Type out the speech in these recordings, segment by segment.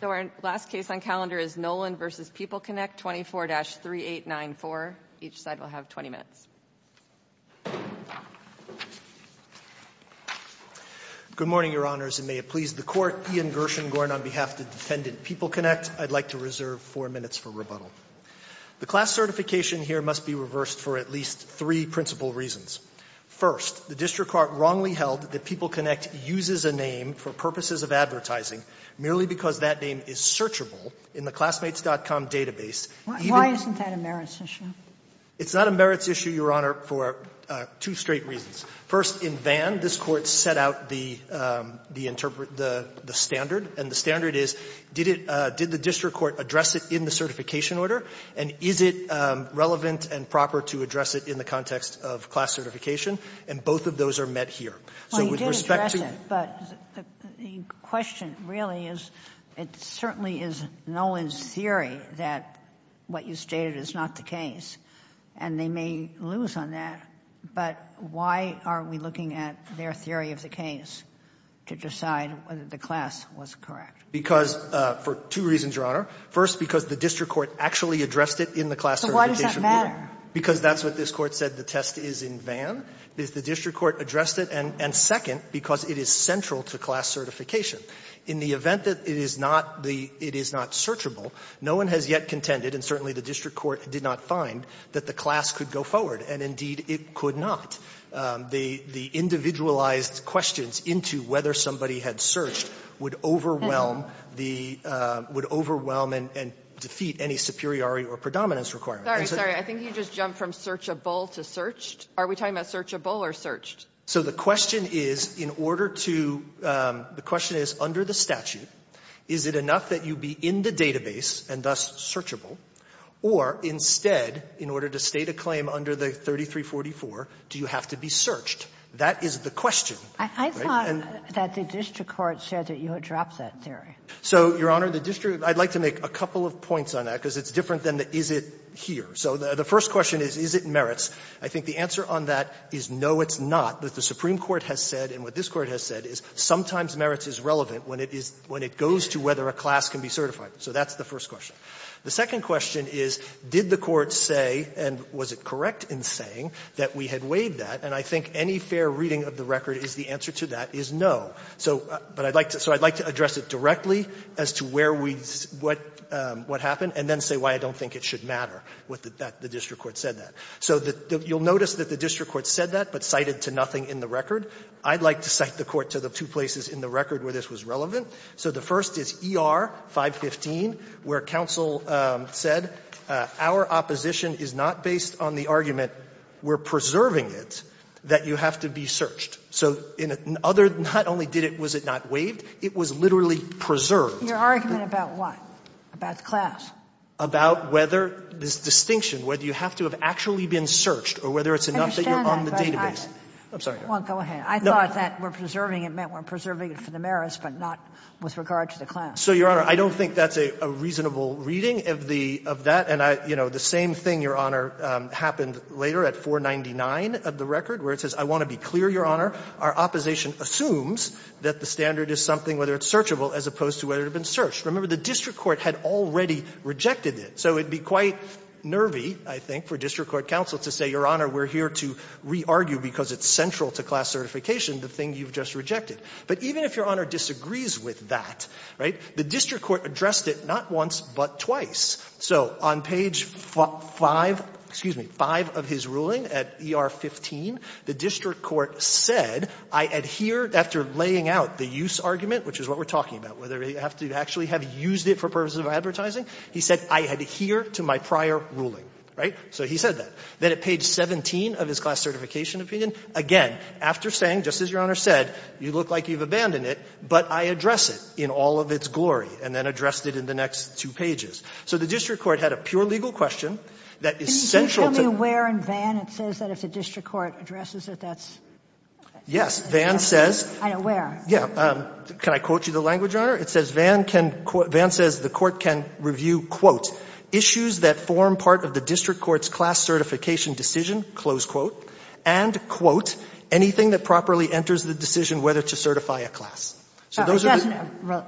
So our last case on calendar is Nolen v. PeopleConnect, 24-3894. Each side will have 20 minutes. Good morning, Your Honors, and may it please the Court. Ian Gershengorn on behalf of the defendant PeopleConnect. I'd like to reserve four minutes for rebuttal. The class certification here must be reversed for at least three principal reasons. First, the district court wrongly held that PeopleConnect uses a name for purposes of advertising merely because that name is searchable in the classmates.com database. Sotomayor, why isn't that a merits issue? Gershengorn It's not a merits issue, Your Honor, for two straight reasons. First, in Vann, this Court set out the standard, and the standard is, did it — did the district court address it in the certification order, and is it relevant and proper to address it in the context of class certification? And both of those are met here. So with respect to the — Ginsburg Well, you did address it, but the question really is, it certainly is Nolen's theory that what you stated is not the case, and they may lose on that. But why are we looking at their theory of the case to decide whether the class was correct? Gershengorn Because — for two reasons, Your Honor. First, because the district court actually addressed it in the class certification Sotomayor, why does that matter? Gershengorn Because that's what this Court said the test is in Vann. The district court addressed it. And second, because it is central to class certification. In the event that it is not the — it is not searchable, no one has yet contended, and certainly the district court did not find, that the class could go forward, and indeed it could not. The individualized questions into whether somebody had searched would overwhelm the — would overwhelm and defeat any superiority or predominance requirements. Kagan Sorry. I think you just jumped from searchable to searched. Are we talking about searchable or searched? Gershengorn So the question is, in order to — the question is, under the statute, is it enough that you be in the database and thus searchable, or instead, in order to state a claim under the 3344, do you have to be searched? That is the question. Ginsburg I thought that the district court said that you had dropped that theory. Gershengorn So, Your Honor, the district — I'd like to make a couple of points on that, because it's different than the is it here. So the first question is, is it merits? I think the answer on that is, no, it's not. But the Supreme Court has said, and what this Court has said, is sometimes merits is relevant when it is — when it goes to whether a class can be certified. So that's the first question. The second question is, did the Court say, and was it correct in saying, that we had waived that? And I think any fair reading of the record is the answer to that is no. So — but I'd like to — so I'd like to address it directly as to where we — what happened, and then say why I don't think it should matter that the district court said that. So you'll notice that the district court said that, but cited to nothing in the record. I'd like to cite the Court to the two places in the record where this was relevant. So the first is ER-515, where counsel said, our opposition is not based on the argument we're preserving it, that you have to be searched. So in other — not only did it — was it not waived, it was literally preserved. Your argument about what? About the class? About whether this distinction, whether you have to have actually been searched or whether it's enough that you're on the database. I'm sorry. Well, go ahead. I thought that we're preserving it meant we're preserving it for the merits, but not with regard to the class. So, Your Honor, I don't think that's a reasonable reading of the — of that. And I — you know, the same thing, Your Honor, happened later at 499 of the record, where it says, I want to be clear, Your Honor, our opposition assumes that the standard is something, whether it's searchable, as opposed to whether it had been searched. Remember, the district court had already rejected it, so it would be quite nervy, I think, for district court counsel to say, Your Honor, we're here to re-argue because it's central to class certification, the thing you've just rejected. But even if Your Honor disagrees with that, right, the district court addressed it not once, but twice. So on page 5 — excuse me, 5 of his ruling at ER-15, the district court said, I adhere — after laying out the use argument, which is what we're talking about, whether you have to actually have used it for purposes of advertising, he said, I adhere to my prior ruling, right? So he said that. Then at page 17 of his class certification opinion, again, after saying, just as Your Honor said, you look like you've abandoned it, but I address it in all of its glory, and then addressed it in the next two pages. So the district court had a pure legal question that is central to — Do you tell me where in Vann it says that if the district court addresses it, that's — Yes. Vann says — I don't know where. Yeah. Can I quote you the language, Your Honor? It says, Vann can — Vann says the court can review, quote, issues that form part of the district court's class certification decision, close quote, and, quote, anything that properly enters the decision whether to certify a class. So those are the — I don't want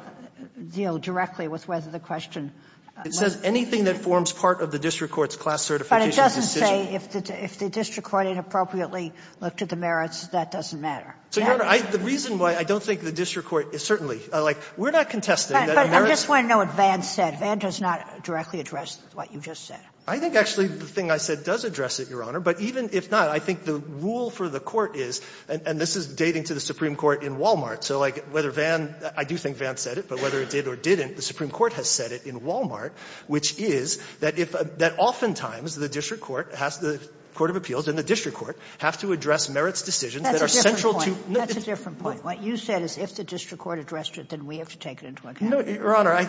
to deal directly with whether the question — It says anything that forms part of the district court's class certification decision. But it doesn't say if the district court inappropriately looked at the merits, that doesn't matter. So, Your Honor, I — the reason why I don't think the district court is — certainly. Like, we're not contesting that the merits — But I just want to know what Vann said. Vann does not directly address what you just said. I think, actually, the thing I said does address it, Your Honor. But even if not, I think the rule for the court is — and this is dating to the Supreme Court in Wal-Mart. So, like, whether Vann — I do think Vann said it, but whether it did or didn't, the Supreme Court has said it in Wal-Mart, which is that if — that oftentimes the district court has to — the court of appeals and the district court have to address merits decisions that are central to — That's a different point. That's a different point. What you said is if the district court addressed it, then we have to take it into account. No, Your Honor, I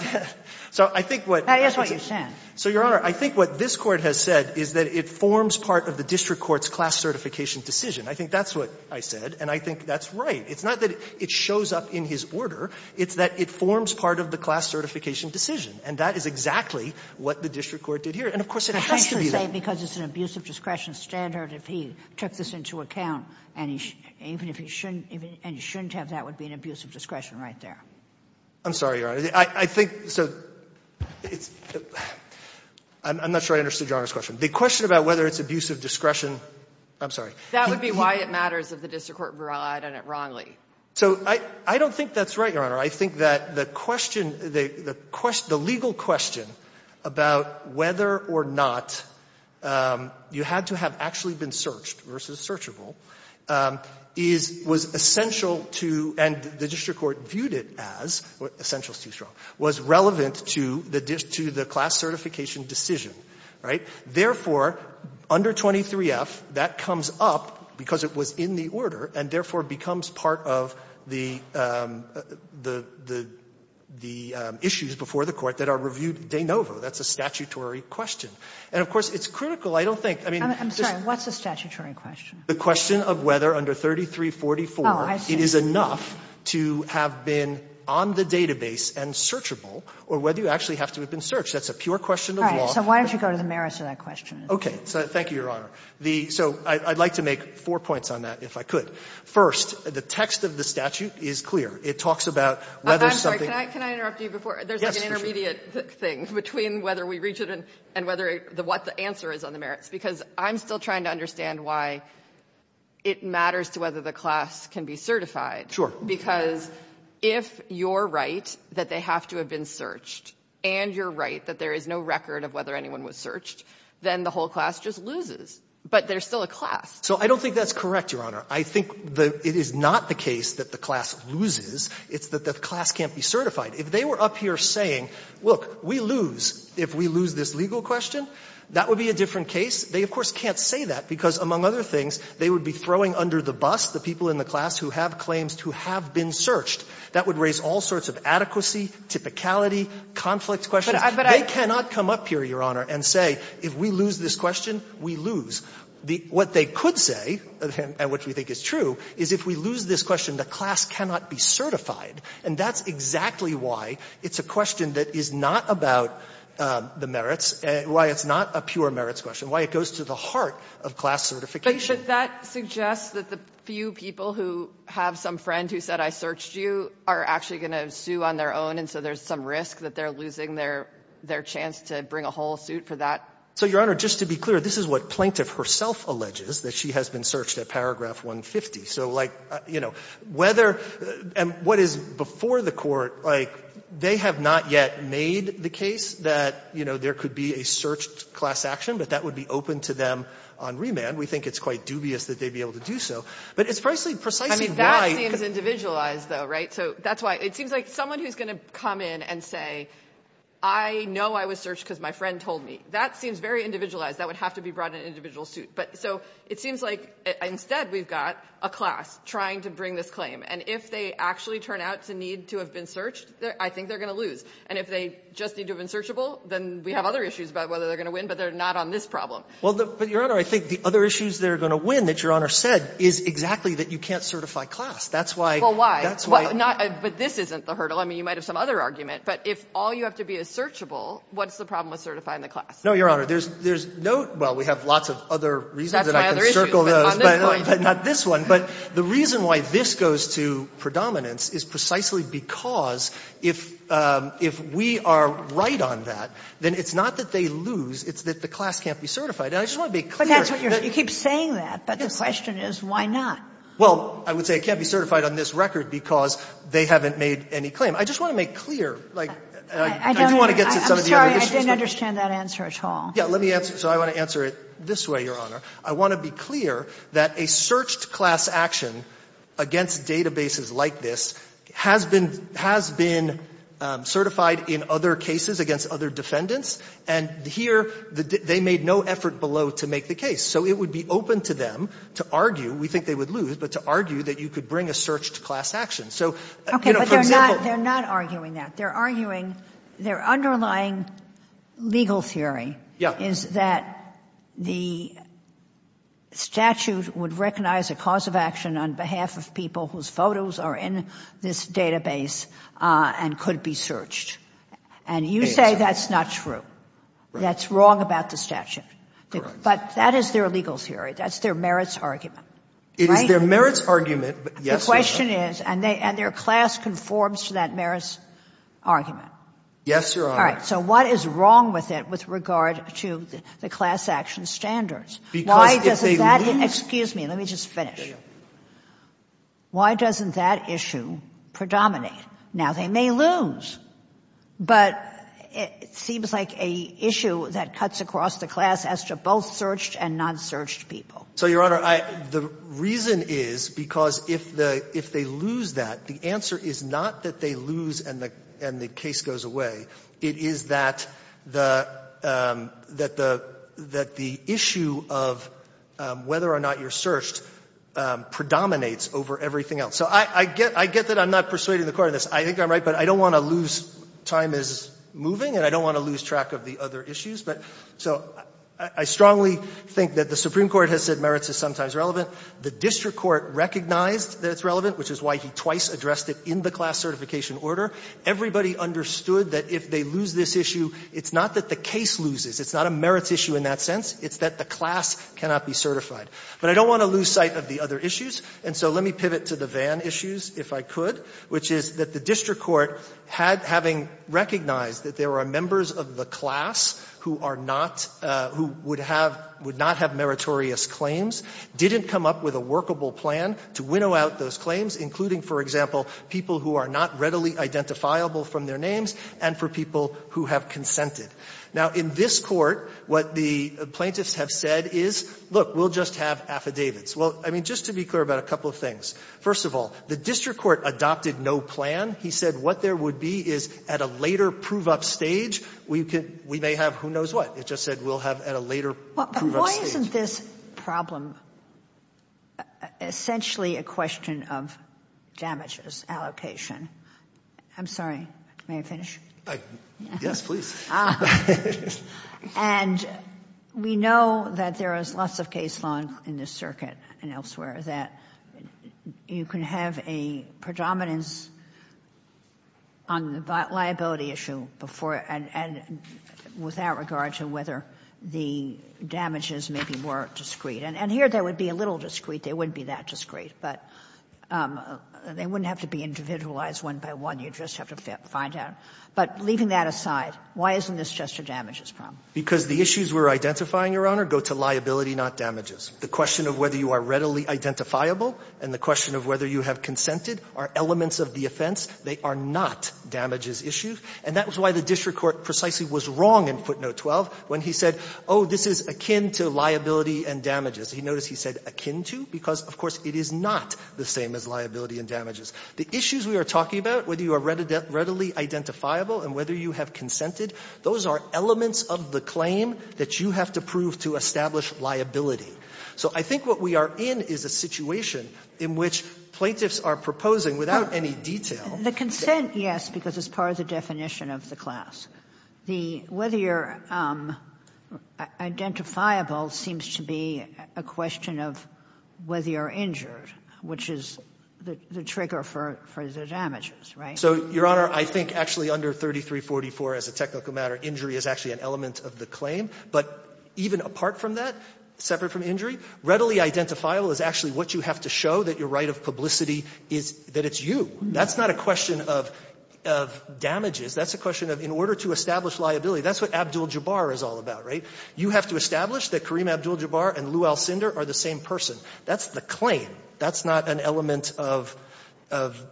— so I think what — Now, here's what you're saying. So, Your Honor, I think what this Court has said is that it forms part of the district court's class certification decision. I think that's what I said, and I think that's right. It's not that it shows up in his order. It's that it forms part of the class certification decision. And that is exactly what the district court did here. And, of course, it has to be that. It's safe to say because it's an abuse of discretion standard if he took this into account, and he — even if he shouldn't — and he shouldn't have, that would be an abuse of discretion right there. I'm sorry, Your Honor. I think — so it's — I'm not sure I understood Your Honor's question. The question about whether it's abuse of discretion — I'm sorry. That would be why it matters if the district court relied on it wrongly. So I — I don't think that's right, Your Honor. I think that the question — the legal question about whether or not you had to have actually been searched versus searchable is — was essential to — and the district court viewed it as — essential is too strong — was relevant to the class certification decision, right? Therefore, under 23F, that comes up because it was in the order, and therefore becomes part of the — the — the issues before the Court that are reviewed de novo. That's a statutory question. And, of course, it's critical. I don't think — I mean, just — I'm sorry. What's the statutory question? The question of whether under 3344 it is enough to have been on the database and searchable, or whether you actually have to have been searched. That's a pure question of law. So why don't you go to the merits of that question? So thank you, Your Honor. The — so I'd like to make four points on that, if I could. First, the text of the statute is clear. It talks about whether something — I'm sorry. Can I — can I interrupt you before? There's, like, an intermediate thing between whether we reach it and — and whether it — what the answer is on the merits, because I'm still trying to understand why it matters to whether the class can be certified. Sure. Because if you're right that they have to have been searched, and you're right that there is no record of whether anyone was searched, then the whole class just loses. But there's still a class. So I don't think that's correct, Your Honor. I think the — it is not the case that the class loses. It's that the class can't be certified. If they were up here saying, look, we lose if we lose this legal question, that would be a different case. They, of course, can't say that because, among other things, they would be throwing under the bus the people in the class who have claims to have been searched. That would raise all sorts of adequacy, typicality, conflict questions. They cannot come up here, Your Honor, and say, if we lose this question, we lose. What they could say, and what we think is true, is if we lose this question, the class cannot be certified. And that's exactly why it's a question that is not about the merits, why it's not a pure merits question, why it goes to the heart of class certification. But that suggests that the few people who have some friend who said, I searched you, are actually going to sue on their own, and so there's some risk that they're losing their chance to bring a whole suit for that. So, Your Honor, just to be clear, this is what Plaintiff herself alleges, that she has been searched at paragraph 150. So, like, you know, whether — and what is before the Court, like, they have not yet made the case that, you know, there could be a searched class action, but that would be open to them on remand. We think it's quite dubious that they'd be able to do so. But it's precisely why — I mean, that seems individualized, though, right? So that's why — it seems like someone who's going to come in and say, I know I was searched because my friend told me, that seems very individualized. That would have to be brought in an individual suit. But — so it seems like instead we've got a class trying to bring this claim. And if they actually turn out to need to have been searched, I think they're going to lose. And if they just need to have been searchable, then we have other issues about whether they're going to win, but they're not on this problem. Well, but, Your Honor, I think the other issues they're going to win that Your Honor said is exactly that you can't certify class. That's why — Well, why? Well, not — but this isn't the hurdle. I mean, you might have some other argument. But if all you have to be is searchable, what's the problem with certifying the class? No, Your Honor. There's no — well, we have lots of other reasons that I can circle those. That's my other issue, but on this point — But not this one. But the reason why this goes to predominance is precisely because if we are right on that, then it's not that they lose. It's that the class can't be certified. And I just want to be clear — But that's what you're — you keep saying that. But the question is, why not? Well, I would say it can't be certified on this record because they haven't made any claim. I just want to make clear, like — I don't — I do want to get to some of the other issues. I'm sorry. I didn't understand that answer at all. Yeah. Let me answer. So I want to answer it this way, Your Honor. I want to be clear that a searched class action against databases like this has been — has been certified in other cases against other defendants. And here, they made no effort below to make the case. So it would be open to them to argue — we think they would lose — but to argue that you could bring a searched class action. So, you know, for example — Okay, but they're not — they're not arguing that. They're arguing — their underlying legal theory is that the statute would recognize a cause of action on behalf of people whose photos are in this database and could be And you say that's not true. That's wrong about the statute. Correct. But that is their legal theory. That's their merits argument. It is their merits argument, but yes, Your Honor. The question is — and their class conforms to that merits argument. Yes, Your Honor. All right. So what is wrong with it with regard to the class action standards? Because if they lose — Excuse me. Let me just finish. Why doesn't that issue predominate? Now, they may lose, but it seems like an issue that cuts across the class as to both searched and non-searched people. So, Your Honor, I — the reason is because if the — if they lose that, the answer is not that they lose and the case goes away. It is that the — that the issue of whether or not you're searched predominates over everything else. So I get — I get that I'm not persuading the Court on this. I think I'm right, but I don't want to lose — time is moving, and I don't want to lose track of the other issues. But — so I strongly think that the Supreme Court has said merits is sometimes relevant. The district court recognized that it's relevant, which is why he twice addressed it in the class certification order. Everybody understood that if they lose this issue, it's not that the case loses. It's not a merits issue in that sense. It's that the class cannot be certified. But I don't want to lose sight of the other issues. And so let me pivot to the Vann issues, if I could, which is that the district court had — having recognized that there are members of the class who are not — who would have — would not have meritorious claims, didn't come up with a workable plan to winnow out those claims, including, for example, people who are not readily identifiable from their names and for people who have consented. Now, in this Court, what the plaintiffs have said is, look, we'll just have affidavits. Well, I mean, just to be clear about a couple of things. First of all, the district court adopted no plan. He said what there would be is, at a later prove-up stage, we could — we may have who knows what. It just said we'll have at a later prove-up stage. But why isn't this problem essentially a question of damages allocation? I'm sorry. May I finish? Yes, please. And we know that there is lots of case law in this circuit and elsewhere that you can have a predominance on the liability issue before — and without regard to whether the damages may be more discreet. And here, they would be a little discreet. They wouldn't be that discreet. But they wouldn't have to be individualized one by one. You'd just have to find out. But leaving that aside, why isn't this just a damages problem? Because the issues we're identifying, Your Honor, go to liability, not damages. The question of whether you are readily identifiable and the question of whether you have consented are elements of the offense. They are not damages issues. And that was why the district court precisely was wrong in footnote 12 when he said, oh, this is akin to liability and damages. He noticed he said akin to because, of course, it is not the same as liability and damages. The issues we are talking about, whether you are readily identifiable and whether you have consented, those are elements of the claim that you have to prove to establish liability. So I think what we are in is a situation in which plaintiffs are proposing, without any detail — The consent, yes, because it's part of the definition of the class. The whether you're identifiable seems to be a question of whether you're injured, which is the trigger for the damages, right? So, Your Honor, I think actually under 3344 as a technical matter, injury is actually an element of the claim. But even apart from that, separate from injury, readily identifiable is actually what you have to show that your right of publicity is that it's you. That's not a question of damages. That's a question of in order to establish liability. That's what Abdul-Jabbar is all about, right? You have to establish that Kareem Abdul-Jabbar and Lew Alcindor are the same person. That's the claim. That's not an element of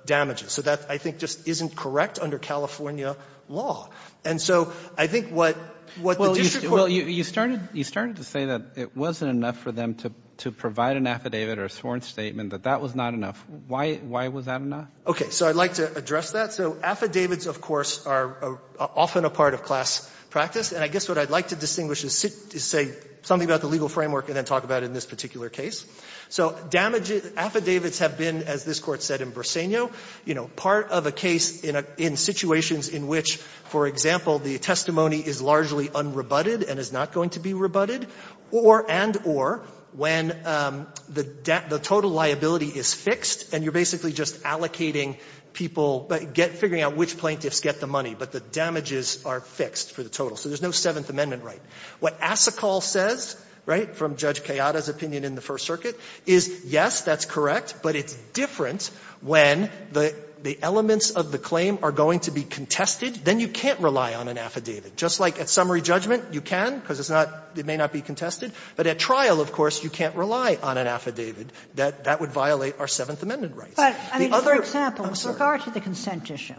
damages. So that, I think, just isn't correct under California law. And so I think what the district court — Well, you started to say that it wasn't enough for them to provide an affidavit or a sworn statement, that that was not enough. Why was that not? Okay. So I'd like to address that. So affidavits, of course, are often a part of class practice. And I guess what I'd like to distinguish is say something about the legal framework and then talk about it in this particular case. So damages — affidavits have been, as this Court said in Briseño, you know, part of a case in situations in which, for example, the testimony is largely unrebutted and is not going to be rebutted, or and or, when the total liability is fixed and you're basically just allocating people — figuring out which plaintiffs get the money, but the damages are fixed for the total. So there's no Seventh Amendment right. What Asikal says, right, from Judge Kayada's opinion in the First Circuit, is, yes, that's correct, but it's different when the elements of the claim are going to be contested. Then you can't rely on an affidavit. Just like at summary judgment, you can, because it's not — it may not be contested. But at trial, of course, you can't rely on an affidavit. That — that would violate our Seventh Amendment rights. The other — But, I mean, for example, with regard to the consent issue,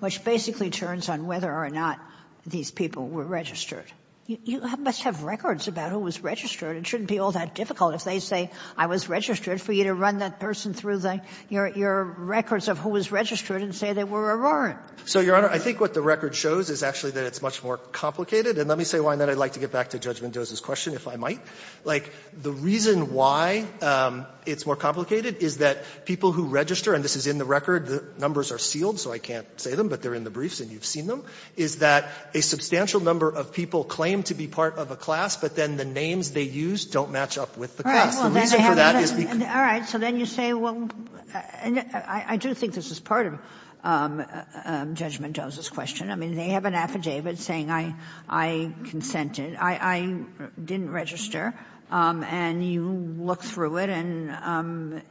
which basically turns on whether or not these people were registered, you know, you must have records about who was registered. It shouldn't be all that difficult if they say, I was registered, for you to run that person through the — your records of who was registered and say they were Aurora. So, Your Honor, I think what the record shows is actually that it's much more complicated. And let me say why, and then I'd like to get back to Judge Mendoza's question, if I might. Like, the reason why it's more complicated is that people who register — and this is in the record. The numbers are sealed, so I can't say them, but they're in the briefs and you've seen them — is that a substantial number of people claim to be part of a class, but then the names they use don't match up with the class. The reason for that is because — So then you say, well — and I do think this is part of Judge Mendoza's question. I mean, they have an affidavit saying, I — I consented. I — I didn't register. And you look through it, and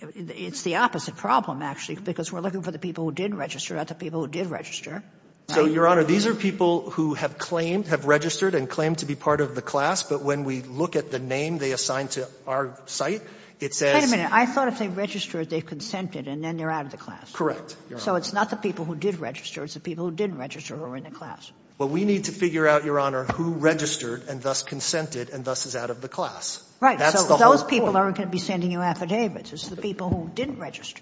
it's the opposite problem, actually, because we're looking for the people who did register, not the people who did register. So, Your Honor, these are people who have claimed — have registered and claimed to be part of the class. But when we look at the name they assigned to our site, it says — Wait a minute. I thought if they registered, they consented, and then they're out of the class. Correct, Your Honor. So it's not the people who did register. It's the people who didn't register who are in the class. Well, we need to figure out, Your Honor, who registered and thus consented and thus is out of the class. Right. That's the whole point. So those people aren't going to be sending you affidavits. It's the people who didn't register.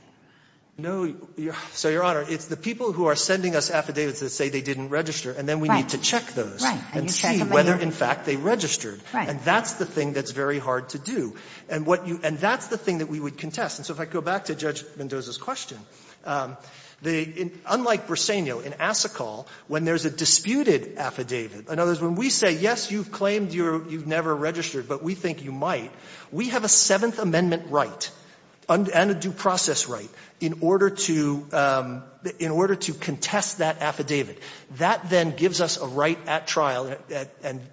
No, Your — so, Your Honor, it's the people who are sending us affidavits that say they didn't register, and then we need to check those and see whether, in fact, they registered. And that's the thing that's very hard to do. And what you — and that's the thing that we would contest. And so if I go back to Judge Mendoza's question, the — unlike Briseño, in Assecal, when there's a disputed affidavit, in other words, when we say, yes, you've claimed you're — you've never registered, but we think you might, we have a Seventh Amendment due process right in order to — in order to contest that affidavit. That then gives us a right at trial,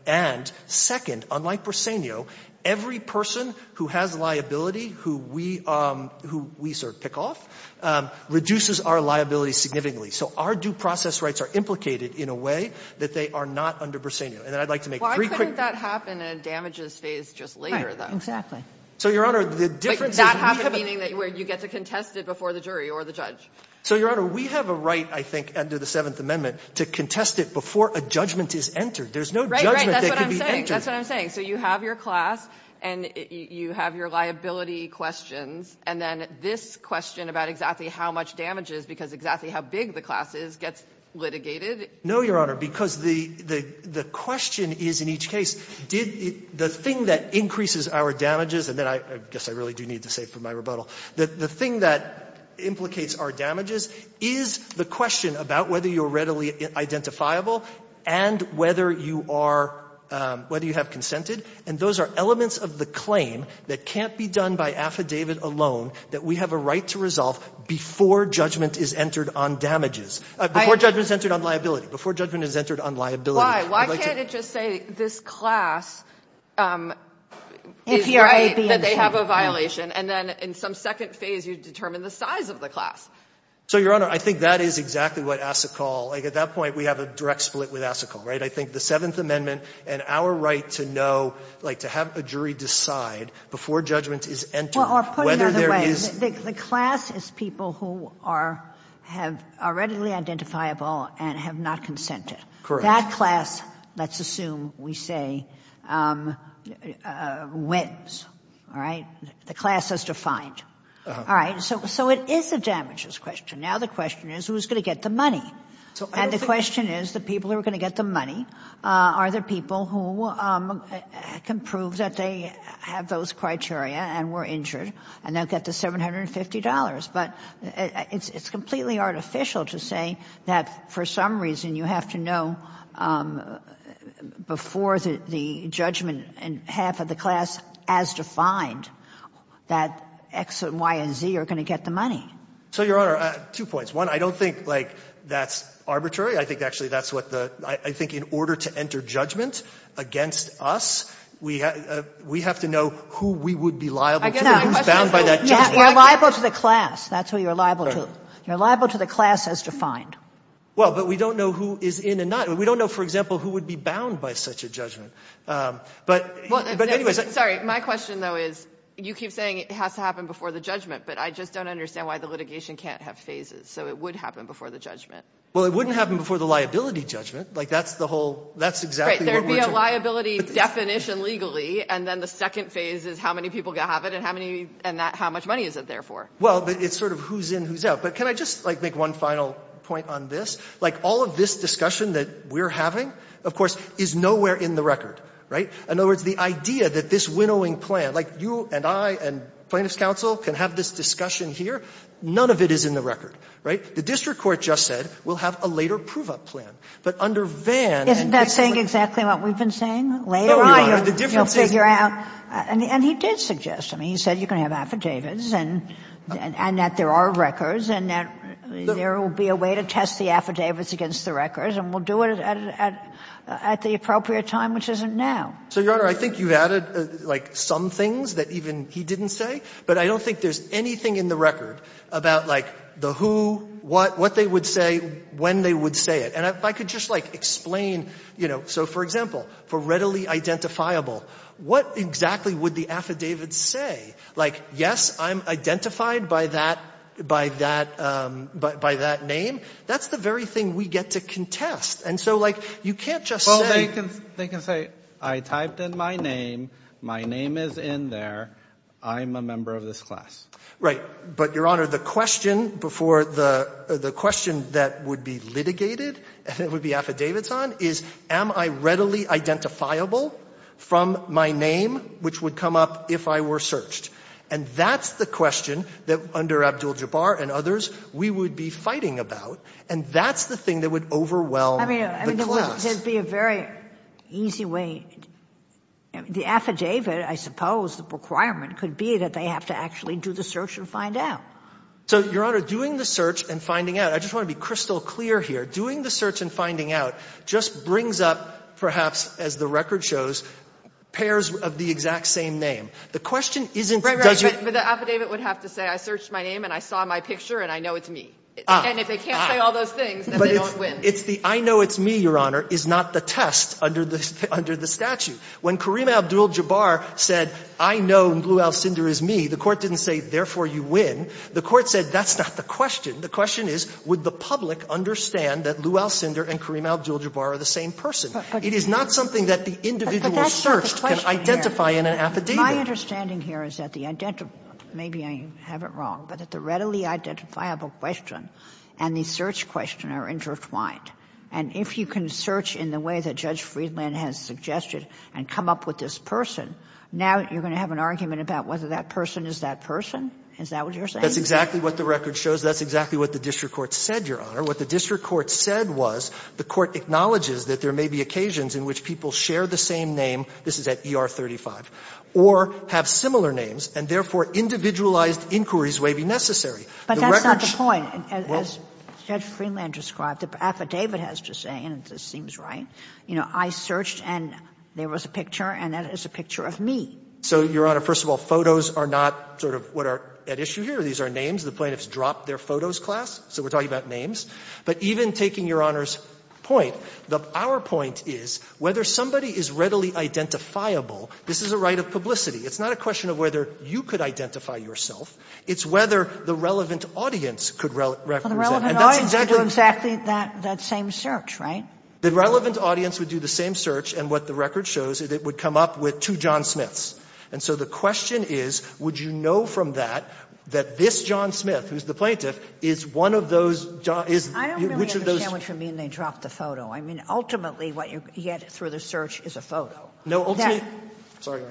and, second, unlike Briseño, every person who has liability who we — who we, sir, pick off, reduces our liability significantly. So our due process rights are implicated in a way that they are not under Briseño. And I'd like to make three quick — Why couldn't that happen in a damages phase just later, though? Exactly. So, Your Honor, the difference is — It doesn't have a meaning where you get to contest it before the jury or the judge. So, Your Honor, we have a right, I think, under the Seventh Amendment, to contest it before a judgment is entered. There's no judgment that can be entered. Right, right. That's what I'm saying. That's what I'm saying. So you have your class, and you have your liability questions, and then this question about exactly how much damage is because exactly how big the class is gets litigated. No, Your Honor, because the — the question is, in each case, did the thing that I need to say for my rebuttal, that the thing that implicates our damages is the question about whether you're readily identifiable and whether you are — whether you have consented. And those are elements of the claim that can't be done by affidavit alone, that we have a right to resolve before judgment is entered on damages — before judgment is entered on liability, before judgment is entered on liability. Why? Why can't it just say this class is right that they have a violation? And then in some second phase, you determine the size of the class. So, Your Honor, I think that is exactly what Asikal — like, at that point, we have a direct split with Asikal, right? I think the Seventh Amendment and our right to know, like, to have a jury decide before judgment is entered whether there is — Well, put another way, the class is people who are — have — are readily identifiable and have not consented. Correct. That class, let's assume, we say, wins, all right? The class is defined. All right. So it is a damages question. Now the question is, who is going to get the money? And the question is, the people who are going to get the money, are there people who can prove that they have those criteria and were injured, and they'll get the $750? But it's completely artificial to say that for some reason you have to know before the judgment and half of the class as defined that X and Y and Z are going to get the money. So, Your Honor, two points. One, I don't think, like, that's arbitrary. I think actually that's what the — I think in order to enter judgment against us, we have to know who we would be liable to. I guess my question is — Who's bound by that judgment? You're liable to the class. That's who you're liable to. You're liable to the class as defined. Well, but we don't know who is in and not. We don't know, for example, who would be bound by such a judgment. But — Sorry, my question, though, is, you keep saying it has to happen before the judgment, but I just don't understand why the litigation can't have phases, so it would happen before the judgment. Well, it wouldn't happen before the liability judgment. Like, that's the whole — that's exactly what we're — Right, there would be a liability definition legally, and then the second phase is how many people have it and how many — and that — how much money is it there for? Well, but it's sort of who's in, who's out. But can I just, like, make one final point on this? Like, all of this discussion that we're having, of course, is nowhere in the record, right? In other words, the idea that this winnowing plan — like, you and I and plaintiff's counsel can have this discussion here. None of it is in the record, right? The district court just said, we'll have a later prove-up plan. But under Vann and — Isn't that saying exactly what we've been saying? Later on, you'll figure out — No, Your Honor, the difference is — And he did suggest — I mean, he said you can have affidavits and that there are records and that there will be a way to test the affidavits against the records, and we'll do it at the appropriate time, which isn't now. So, Your Honor, I think you've added, like, some things that even he didn't say. But I don't think there's anything in the record about, like, the who, what they would say, when they would say it. And if I could just, like, explain, you know — so, for example, for readily identifiable, what exactly would the affidavits say? Like, yes, I'm identified by that — by that — by that name. That's the very thing we get to contest. And so, like, you can't just say — Well, they can — they can say, I typed in my name, my name is in there, I'm a member of this class. Right. But, Your Honor, the question before the — the question that would be litigated and it would be affidavits on is, am I readily identifiable from my name, which would come up if I were searched? And that's the question that, under Abdul-Jabbar and others, we would be fighting about. And that's the thing that would overwhelm the class. I mean, there would be a very easy way — the affidavit, I suppose, the requirement could be that they have to actually do the search and find out. So, Your Honor, doing the search and finding out — I just want to be crystal clear here — doing the search and finding out just brings up, perhaps, as the record shows, pairs of the exact same name. The question isn't — Right, right. But the affidavit would have to say, I searched my name and I saw my picture and I know it's me. And if they can't say all those things, then they don't win. But if — it's the, I know it's me, Your Honor, is not the test under the statute. When Kareem Abdul-Jabbar said, I know Lou Alcindor is me, the Court didn't say, therefore you win. The Court said, that's not the question. The question is, would the public understand that Lou Alcindor and Kareem Abdul-Jabbar are the same person? It is not something that the individual searched can identify in an affidavit. My understanding here is that the — maybe I have it wrong — but that the readily identifiable question and the search question are intertwined. And if you can search in the way that Judge Friedland has suggested and come up with this person, now you're going to have an argument about whether that person is that person? Is that what you're saying? That's exactly what the record shows. That's exactly what the district court said, Your Honor. What the district court said was, the court acknowledges that there may be occasions in which people share the same name, this is at ER 35, or have similar names, and therefore individualized inquiries may be necessary. The record shows — But that's not the point. As Judge Friedland described, the affidavit has to say, and this seems right, you know, I searched and there was a picture, and that is a picture of me. So, Your Honor, first of all, photos are not sort of what are at issue here. These are names. The plaintiffs dropped their photos class, so we're talking about names. But even taking Your Honor's point, our point is whether somebody is readily identifiable, this is a right of publicity. It's not a question of whether you could identify yourself. It's whether the relevant audience could represent. And that's exactly the same search, right? The relevant audience would do the same search, and what the record shows is it would come up with two John Smiths. And so the question is, would you know from that that this John Smith, who's the plaintiff, is one of those — I don't really understand what you mean they dropped the photo. I mean, ultimately, what you get through the search is a photo. No, ultimately — Sorry, Your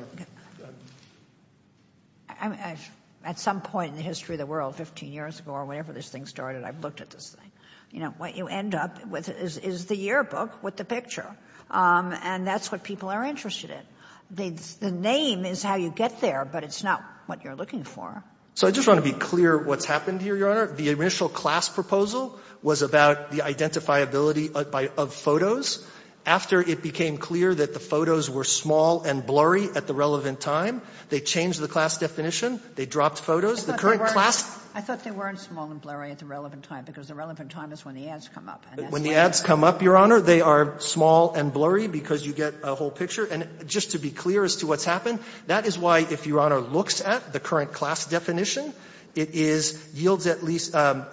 Honor. At some point in the history of the world, 15 years ago or whenever this thing started, I've looked at this thing. You know, what you end up with is the yearbook with the picture. And that's what people are interested in. The name is how you get there, but it's not what you're looking for. So I just want to be clear what's happened here, Your Honor. The initial class proposal was about the identifiability of photos. After it became clear that the photos were small and blurry at the relevant time, they changed the class definition. They dropped photos. The current class — I thought they weren't small and blurry at the relevant time, because the relevant time is when the ads come up. When the ads come up, Your Honor, they are small and blurry because you get a whole picture. And just to be clear as to what's happened, that is why, if Your Honor looks at the current class definition, it is — yields at least — it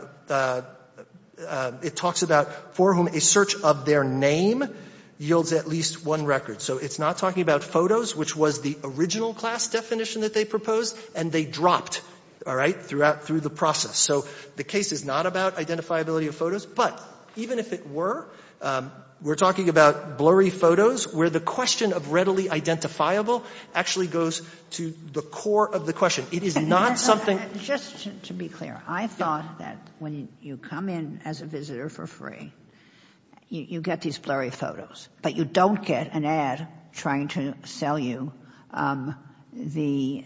talks about for whom a search of their name yields at least one record. So it's not talking about photos, which was the original class definition that they proposed, and they dropped, all right, throughout — through the process. So the case is not about identifiability of photos. But even if it were, we're talking about blurry photos where the question of readily identifiable actually goes to the core of the question. It is not something — Just to be clear, I thought that when you come in as a visitor for free, you get these blurry photos, but you don't get an ad trying to sell you the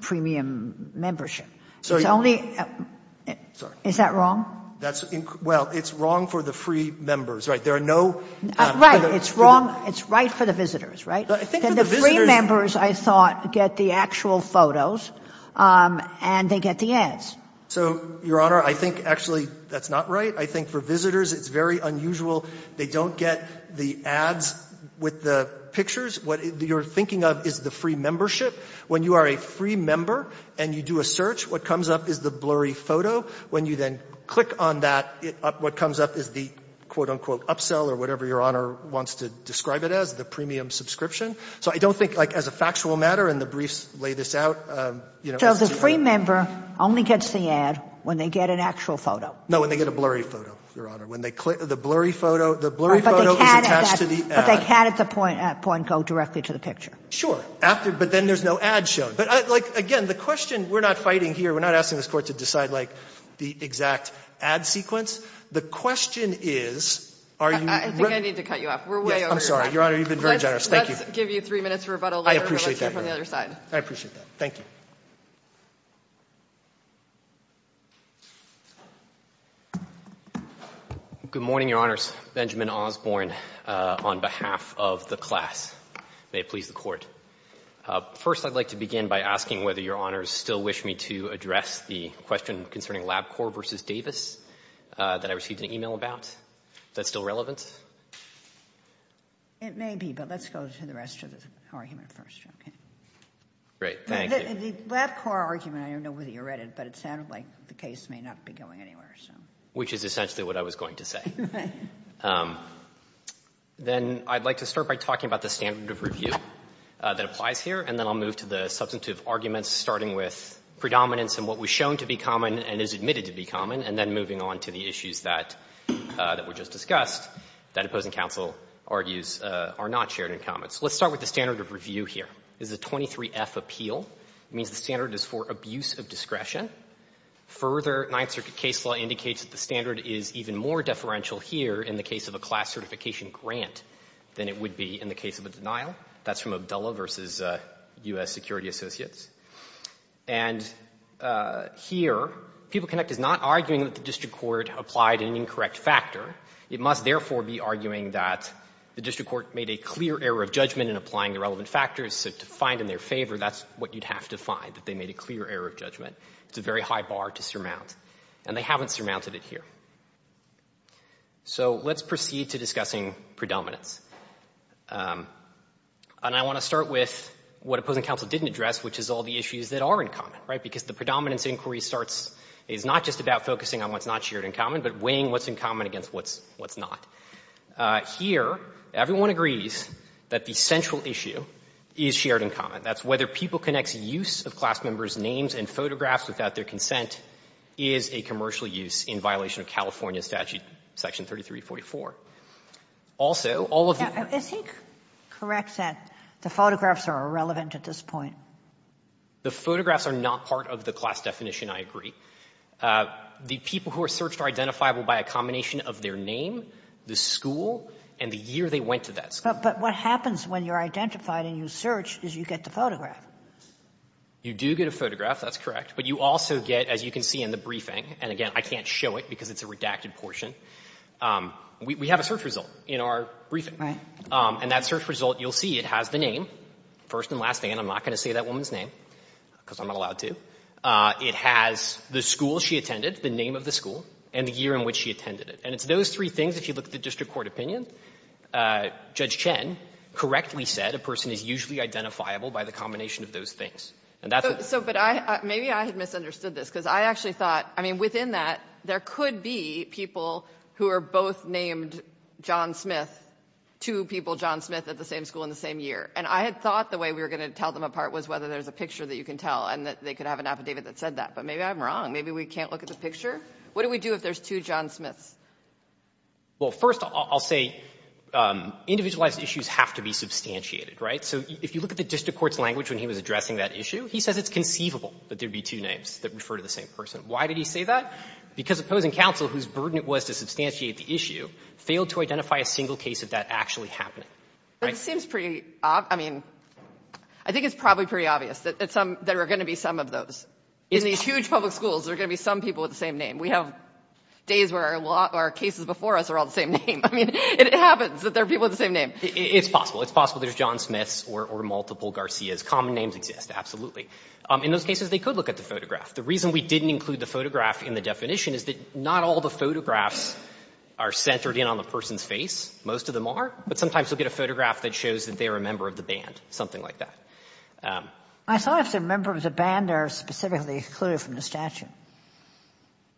premium membership. It's only — Sorry. Is that wrong? That's — well, it's wrong for the free members, right? There are no — Right. It's wrong — it's right for the visitors, right? I think for the visitors — The free members, I thought, get the actual photos, and they get the ads. So, Your Honor, I think, actually, that's not right. I think for visitors, it's very unusual. They don't get the ads with the pictures. What you're thinking of is the free membership. When you are a free member and you do a search, what comes up is the blurry photo. When you then click on that, what comes up is the, quote, unquote, upsell or whatever Your Honor wants to describe it as, the premium subscription. So I don't think, like, as a factual matter, and the briefs lay this out, you know — So the free member only gets the ad when they get an actual photo? No, when they get a blurry photo, Your Honor. When they click — the blurry photo — the blurry photo is attached to the ad. But they can't, at that point, go directly to the picture. Sure. After — but then there's no ad shown. But, like, again, the question — we're not fighting here. We're not asking this Court to decide, like, the exact ad sequence. The question is, are you — I think I need to cut you off. We're way over your time. I'm sorry. Your Honor, you've been very generous. Let's give you three minutes of rebuttal later. I appreciate that, Your Honor. Let's hear from the other side. I appreciate that. Thank you. Good morning, Your Honors. Benjamin Osborne on behalf of the class. May it please the Court. First, I'd like to begin by asking whether Your Honors still wish me to address the question concerning LabCorp v. Davis that I received an email about. Is that still relevant? It may be. But let's go to the rest of the argument first, okay? Great. Thank you. The LabCorp argument, I don't know whether you read it, but it sounded like the case may not be going anywhere, so — Which is essentially what I was going to say. Right. Then I'd like to start by talking about the standard of review that applies here. And then I'll move to the substantive arguments, starting with predominance and what was shown to be common and is admitted to be common, and then moving on to the that opposing counsel argues are not shared in common. So let's start with the standard of review here. This is a 23F appeal. It means the standard is for abuse of discretion. Further, Ninth Circuit case law indicates that the standard is even more deferential here in the case of a class certification grant than it would be in the case of a denial. That's from Abdullah v. U.S. Security Associates. And here, PeopleConnect is not arguing that the district court applied an incorrect factor. It must, therefore, be arguing that the district court made a clear error of judgment in applying the relevant factors, so to find in their favor, that's what you'd have to find, that they made a clear error of judgment. It's a very high bar to surmount. And they haven't surmounted it here. So let's proceed to discussing predominance. And I want to start with what opposing counsel didn't address, which is all the issues that are in common, right, because the predominance inquiry starts — is not just about focusing on what's not shared in common, but weighing what's in common against what's not. Here, everyone agrees that the central issue is shared in common. That's whether PeopleConnect's use of class members' names and photographs without their consent is a commercial use in violation of California statute section 3344. Also, all of the — Sotomayor, is he correct that the photographs are irrelevant at this point? The photographs are not part of the class definition, I agree. The people who are searched are identifiable by a combination of their name, the school, and the year they went to that school. But what happens when you're identified and you search is you get the photograph. You do get a photograph, that's correct. But you also get, as you can see in the briefing, and again, I can't show it because it's a redacted portion, we have a search result in our briefing. Right. And that search result, you'll see it has the name, first and last name. I'm not going to say that woman's name because I'm not allowed to. It has the school she attended, the name of the school, and the year in which she attended it. And it's those three things, if you look at the district court opinion, Judge Chen correctly said a person is usually identifiable by the combination of those things. And that's the — So, but I — maybe I had misunderstood this, because I actually thought — I mean, within that, there could be people who are both named John Smith, two people John Smith at the same school in the same year. And I had thought the way we were going to tell them apart was whether there's a picture that you can tell and that they could have an affidavit that said that. But maybe I'm wrong. Maybe we can't look at the picture. What do we do if there's two John Smiths? Well, first, I'll say individualized issues have to be substantiated, right? So if you look at the district court's language when he was addressing that issue, he says it's conceivable that there would be two names that refer to the same person. Why did he say that? Because opposing counsel, whose burden it was to substantiate the issue, failed to identify a single case of that actually happening. But it seems pretty — I mean, I think it's probably pretty obvious that there are going to be some of those. In these huge public schools, there are going to be some people with the same name. We have days where our cases before us are all the same name. I mean, it happens that there are people with the same name. It's possible. It's possible there's John Smiths or multiple Garcias. Common names exist, absolutely. In those cases, they could look at the photograph. The reason we didn't include the photograph in the definition is that not all the photographs are centered in on the person's face. Most of them are. But sometimes you'll get a photograph that shows that they're a member of the band, something like that. I thought if they're a member of the band, they're specifically excluded from the statute.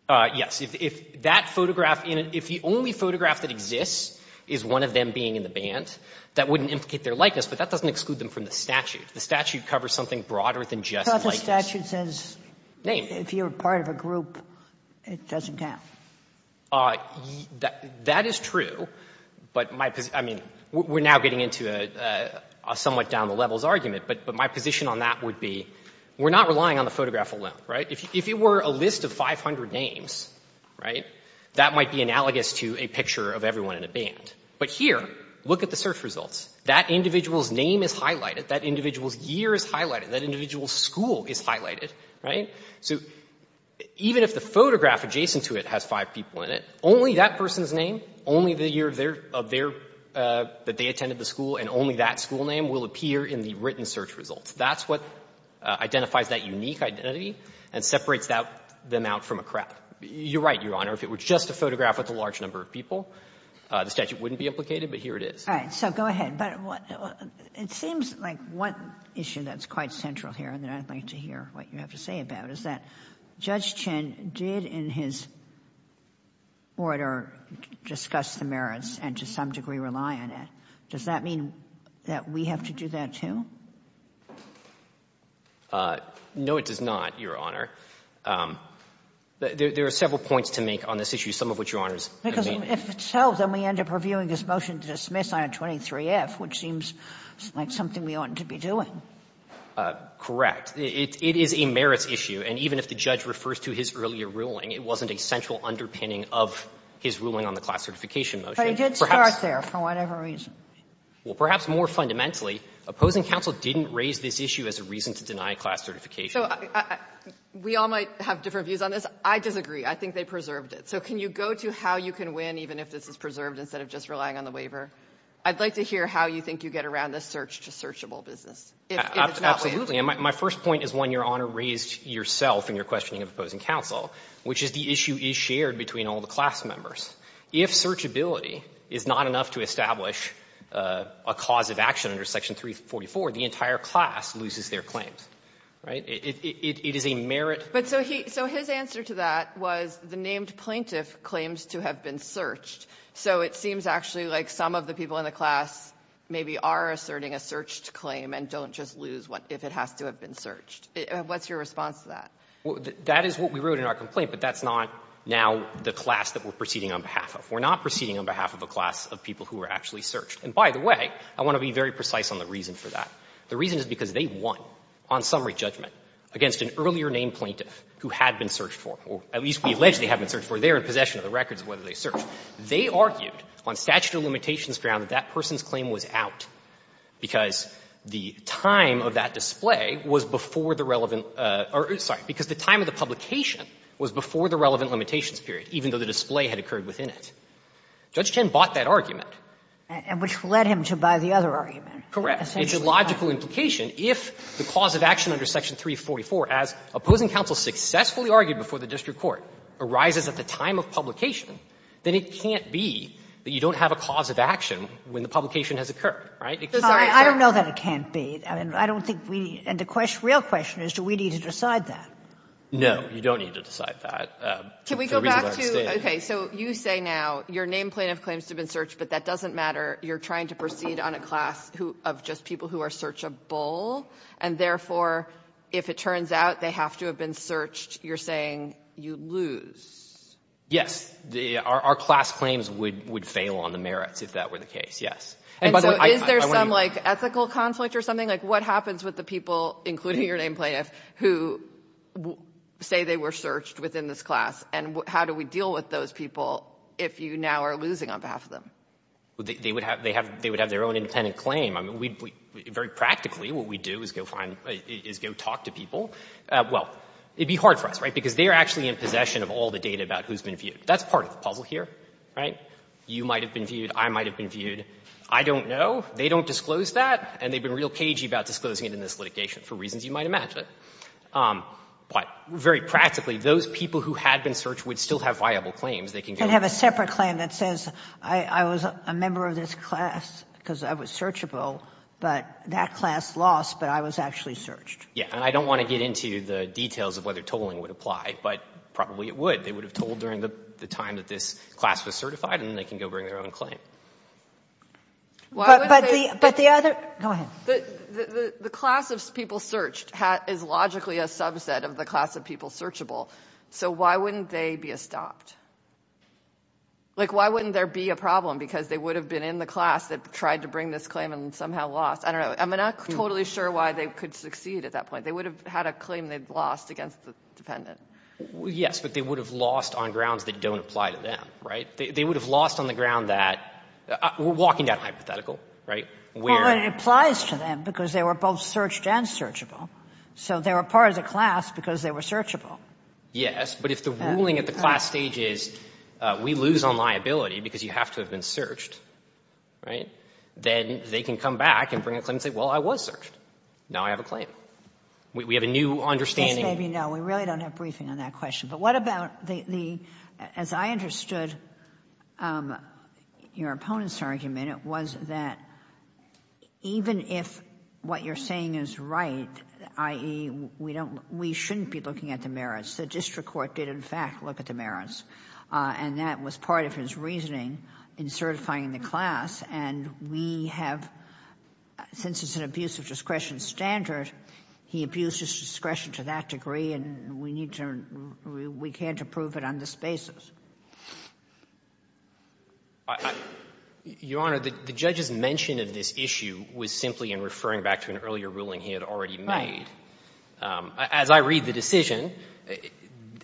Yes. If that photograph — if the only photograph that exists is one of them being in the band, that wouldn't implicate their likeness, but that doesn't exclude them from the statute. The statute covers something broader than just likeness. But the statute says if you're part of a group, it doesn't count. That is true, but my — I mean, we're now getting into a somewhat down-the-levels argument, but my position on that would be we're not relying on the photograph alone, right? If it were a list of 500 names, right, that might be analogous to a picture of everyone in a band. But here, look at the search results. That individual's name is highlighted. That individual's year is highlighted. That individual's school is highlighted, right? So even if the photograph adjacent to it has five people in it, only that person's name, only the year of their — that they attended the school, and only that school name will appear in the written search results. That's what identifies that unique identity and separates them out from a crowd. You're right, Your Honor. If it were just a photograph with a large number of people, the statute wouldn't be implicated, but here it is. All right. So go ahead. But it seems like one issue that's quite central here, and then I'd like to hear what you have to say about it, is that Judge Chin did, in his order, discuss the merits and to some degree rely on it. Does that mean that we have to do that, too? No, it does not, Your Honor. There are several points to make on this issue, some of which Your Honor is — Because if it's so, then we end up reviewing this motion to dismiss on 23F, which seems like something we oughtn't to be doing. Correct. It is a merits issue. And even if the judge refers to his earlier ruling, it wasn't a central underpinning of his ruling on the class certification motion. But he did start there for whatever reason. Well, perhaps more fundamentally, opposing counsel didn't raise this issue as a reason to deny class certification. So we all might have different views on this. I disagree. I think they preserved it. So can you go to how you can win, even if this is preserved, instead of just relying on the waiver? I'd like to hear how you think you get around the search-to-searchable business, if it's not waived. And my first point is one Your Honor raised yourself in your questioning of opposing counsel, which is the issue is shared between all the class members. If searchability is not enough to establish a cause of action under Section 344, the entire class loses their claims. Right? It is a merit. But so he — so his answer to that was the named plaintiff claims to have been searched. So it seems actually like some of the people in the class maybe are asserting a searched claim and don't just lose if it has to have been searched. What's your response to that? That is what we wrote in our complaint. But that's not now the class that we're proceeding on behalf of. We're not proceeding on behalf of a class of people who were actually searched. And by the way, I want to be very precise on the reason for that. The reason is because they won on summary judgment against an earlier named plaintiff who had been searched for, or at least we allege they had been searched for. They were in possession of the records of whether they searched. They argued on statute of limitations ground that that person's claim was out because the time of that display was before the relevant — sorry, because the time of the publication was before the relevant limitations period, even though the display had occurred within it. Judge Chen bought that argument. And which led him to buy the other argument. Correct. It's a logical implication. If the cause of action under Section 344, as opposing counsel successfully argued before the district court, arises at the time of publication, then it can't be that you don't have a cause of action when the publication has occurred, right? I don't know that it can't be. I don't think we need — and the real question is do we need to decide that? No, you don't need to decide that. Can we go back to — okay. So you say now your named plaintiff claims to have been searched, but that doesn't matter. You're trying to proceed on a class of just people who are searchable. And therefore, if it turns out they have to have been searched, you're saying you lose. Yes. Our class claims would fail on the merits if that were the case, yes. And so is there some, like, ethical conflict or something? Like, what happens with the people, including your named plaintiff, who say they were searched within this class? And how do we deal with those people if you now are losing on behalf of them? They would have their own independent claim. I mean, we — very practically, what we do is go find — is go talk to people. Well, it would be hard for us, right? Because they are actually in possession of all the data about who's been viewed. That's part of the puzzle here, right? You might have been viewed. I might have been viewed. I don't know. They don't disclose that, and they've been real cagey about disclosing it in this litigation for reasons you might imagine. But very practically, those people who had been searched would still have viable claims. They can go — But there's a separate claim that says, I was a member of this class because I was searchable. But that class lost, but I was actually searched. Yeah. And I don't want to get into the details of whether tolling would apply, but probably it would. They would have told during the time that this class was certified, and they can go bring their own claim. But the other — go ahead. The class of people searched is logically a subset of the class of people searchable. So why wouldn't they be estopped? Like, why wouldn't there be a problem? Because they would have been in the class that tried to bring this claim and somehow lost. I don't know. I'm not totally sure why they could succeed at that point. They would have had a claim they'd lost against the dependent. Yes, but they would have lost on grounds that don't apply to them, right? They would have lost on the ground that — we're walking down a hypothetical, right? Well, it applies to them because they were both searched and searchable. So they were part of the class because they were searchable. Yes. But if the ruling at the class stage is we lose on liability because you have to have been searched, right, then they can come back and bring a claim and say, well, I was searched. Now I have a claim. We have a new understanding. Just maybe no. We really don't have briefing on that question. But what about the — as I understood your opponent's argument, it was that even if what you're saying is right, i.e., we don't — we shouldn't be looking at the merits. The district court did, in fact, look at the merits. And that was part of his reasoning in certifying the class. And we have — since it's an abuse of discretion standard, he abused his discretion to that degree, and we need to — we can't approve it on this basis. Your Honor, the judge's mention of this issue was simply in referring back to an earlier ruling he had already made. Right. As I read the decision,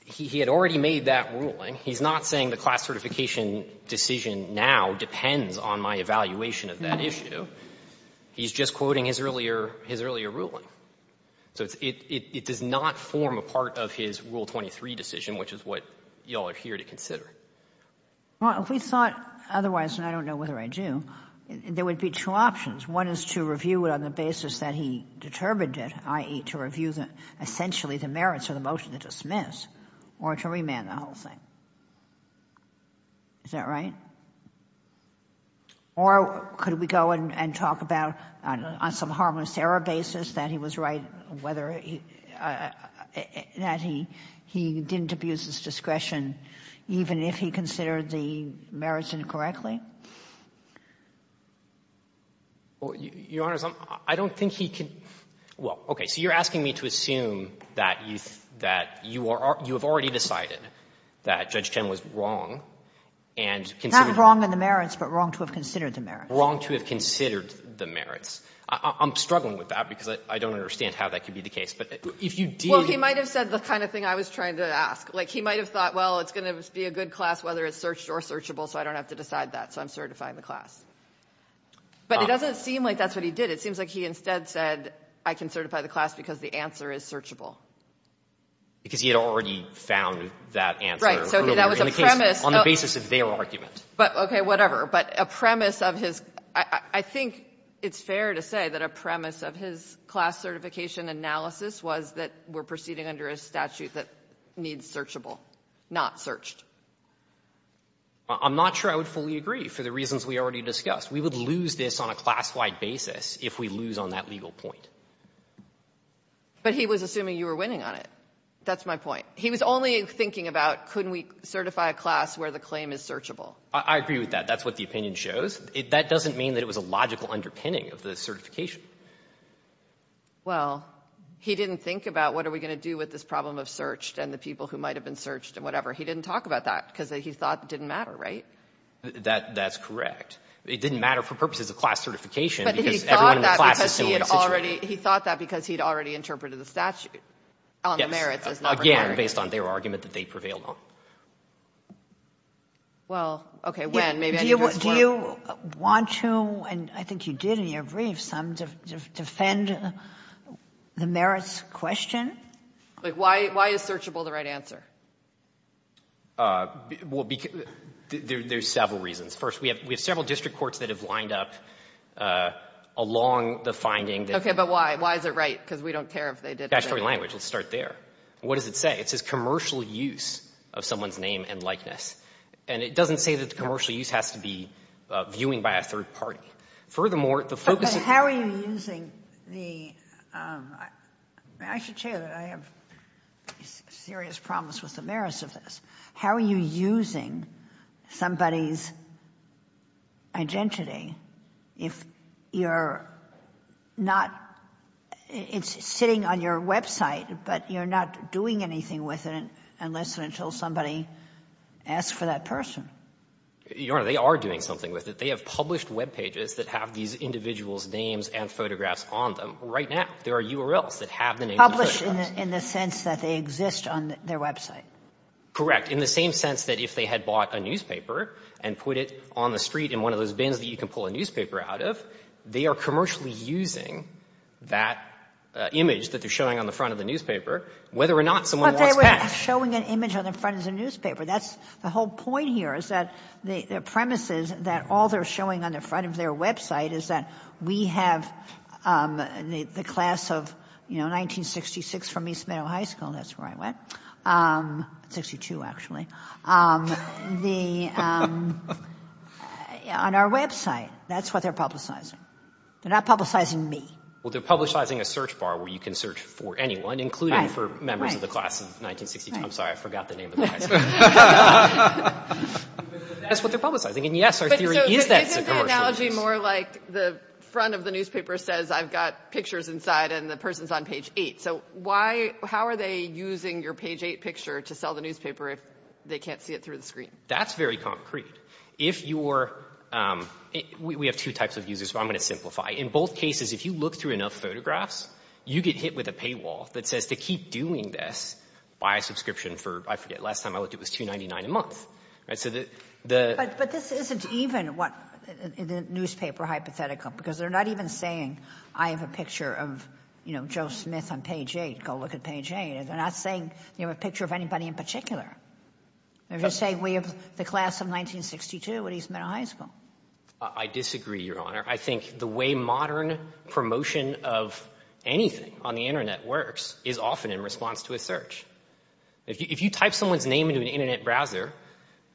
he had already made that ruling. He's not saying the class certification decision now depends on my evaluation of that issue. He's just quoting his earlier — his earlier ruling. So it does not form a part of his Rule 23 decision, which is what you all are here to consider. Well, if we thought otherwise, and I don't know whether I do, there would be two options. One is to review it on the basis that he determined it, i.e., to review essentially the merits of the motion to dismiss, or to remand the whole thing. Is that right? Or could we go and talk about, on some harmless error basis, that he was right, whether — that he didn't abuse his discretion even if he considered the merits incorrectly? Your Honor, I don't think he could — well, okay. So you're asking me to assume that you've — that you are — you have already decided that Judge Chen was wrong, and considered — Not wrong in the merits, but wrong to have considered the merits. Wrong to have considered the merits. I'm struggling with that because I don't understand how that could be the case. But if you did — Well, he might have said the kind of thing I was trying to ask. Like, he might have thought, well, it's going to be a good class whether it's searched or searchable, so I don't have to decide that. So I'm certifying the class. But it doesn't seem like that's what he did. It seems like he instead said, I can certify the class because the answer is searchable. Because he had already found that answer. So that was a premise — On the basis of their argument. But, okay, whatever. But a premise of his — I think it's fair to say that a premise of his class certification analysis was that we're proceeding under a statute that needs searchable, not searched. I'm not sure I would fully agree for the reasons we already discussed. We would lose this on a class-wide basis if we lose on that legal point. But he was assuming you were winning on it. That's my point. He was only thinking about, couldn't we certify a class where the claim is searchable? I agree with that. That's what the opinion shows. That doesn't mean that it was a logical underpinning of the certification. Well, he didn't think about what are we going to do with this problem of searched and the people who might have been searched and whatever. He didn't talk about that because he thought it didn't matter, right? That's correct. It didn't matter for purposes of class certification because everyone in the class is in the same situation. But he thought that because he had already interpreted the statute on the merits as not required. Again, based on their argument that they prevailed on. Well, okay, when? Maybe I need to ask one more. Do you want to, and I think you did in your brief, defend the merits question? Why is searchable the right answer? Well, there's several reasons. First, we have several district courts that have lined up along the finding. Okay, but why? Why is it right? Because we don't care if they did it right. Let's start there. What does it say? It says commercial use of someone's name and likeness. And it doesn't say that the commercial use has to be viewing by a third party. Furthermore, the focus of the court. I should say that I have serious problems with the merits of this. How are you using somebody's identity if you're not, it's sitting on your website, but you're not doing anything with it unless and until somebody asks for that person? Your Honor, they are doing something with it. They have published web pages that have these individuals' names and photographs on them. Right now, there are URLs that have the names and photographs. Published in the sense that they exist on their website. Correct. In the same sense that if they had bought a newspaper and put it on the street in one of those bins that you can pull a newspaper out of, they are commercially using that image that they're showing on the front of the newspaper, whether or not someone wants that. But they were showing an image on the front of the newspaper. That's the whole point here, is that their premise is that all they're showing on the front of their website is that we have the class of 1966 from East Meadow High School, that's where I went, 62 actually, on our website. That's what they're publicizing. They're not publicizing me. Well, they're publicizing a search bar where you can search for anyone, including for members of the class of 1960. I'm sorry, I forgot the name of the class. That's what they're publicizing. And yes, our theory is that it's a commercial use. Isn't the analogy more like the front of the newspaper says I've got pictures inside and the person's on page 8? So why, how are they using your page 8 picture to sell the newspaper if they can't see it through the screen? That's very concrete. If you're, we have two types of users, but I'm going to simplify. In both cases, if you look through enough photographs, you get hit with a paywall that says to keep doing this, buy a subscription for, I forget, last time I looked it was $2.99 a month. So the. But this isn't even what the newspaper hypothetical, because they're not even saying I have a picture of, you know, Joe Smith on page 8. Go look at page 8. They're not saying they have a picture of anybody in particular. They're just saying we have the class of 1962 at East Meadow High School. I disagree, Your Honor. I think the way modern promotion of anything on the Internet works is often in response to a search. If you type someone's name into an Internet browser,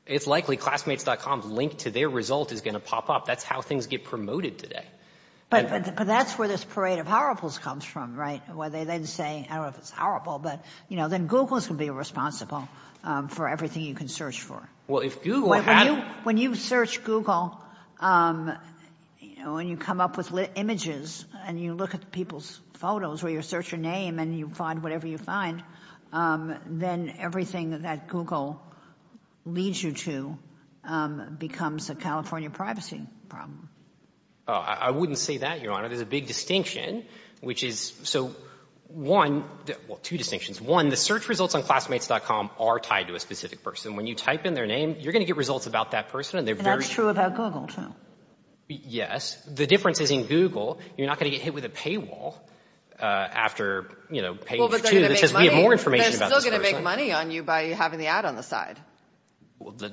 it's likely classmates.com's link to their result is going to pop up. That's how things get promoted today. But that's where this parade of horribles comes from, right? Where they then say, I don't know if it's horrible, but, you know, then Google is going to be responsible for everything you can search for. Well, if Google had. When you search Google, you know, and you come up with images and you look at people's photos or you search your name and you find whatever you find, then everything that Google leads you to becomes a California privacy problem. I wouldn't say that, Your Honor. There's a big distinction, which is so one. Well, two distinctions. One, the search results on classmates.com are tied to a specific person. When you type in their name, you're going to get results about that person and they're very. And that's true about Google, too. Yes. The difference is in Google, you're not going to get hit with a paywall after, you know, page two. Well, but they're going to make money. Because we have more information about this person. They're still going to make money on you by having the ad on the side.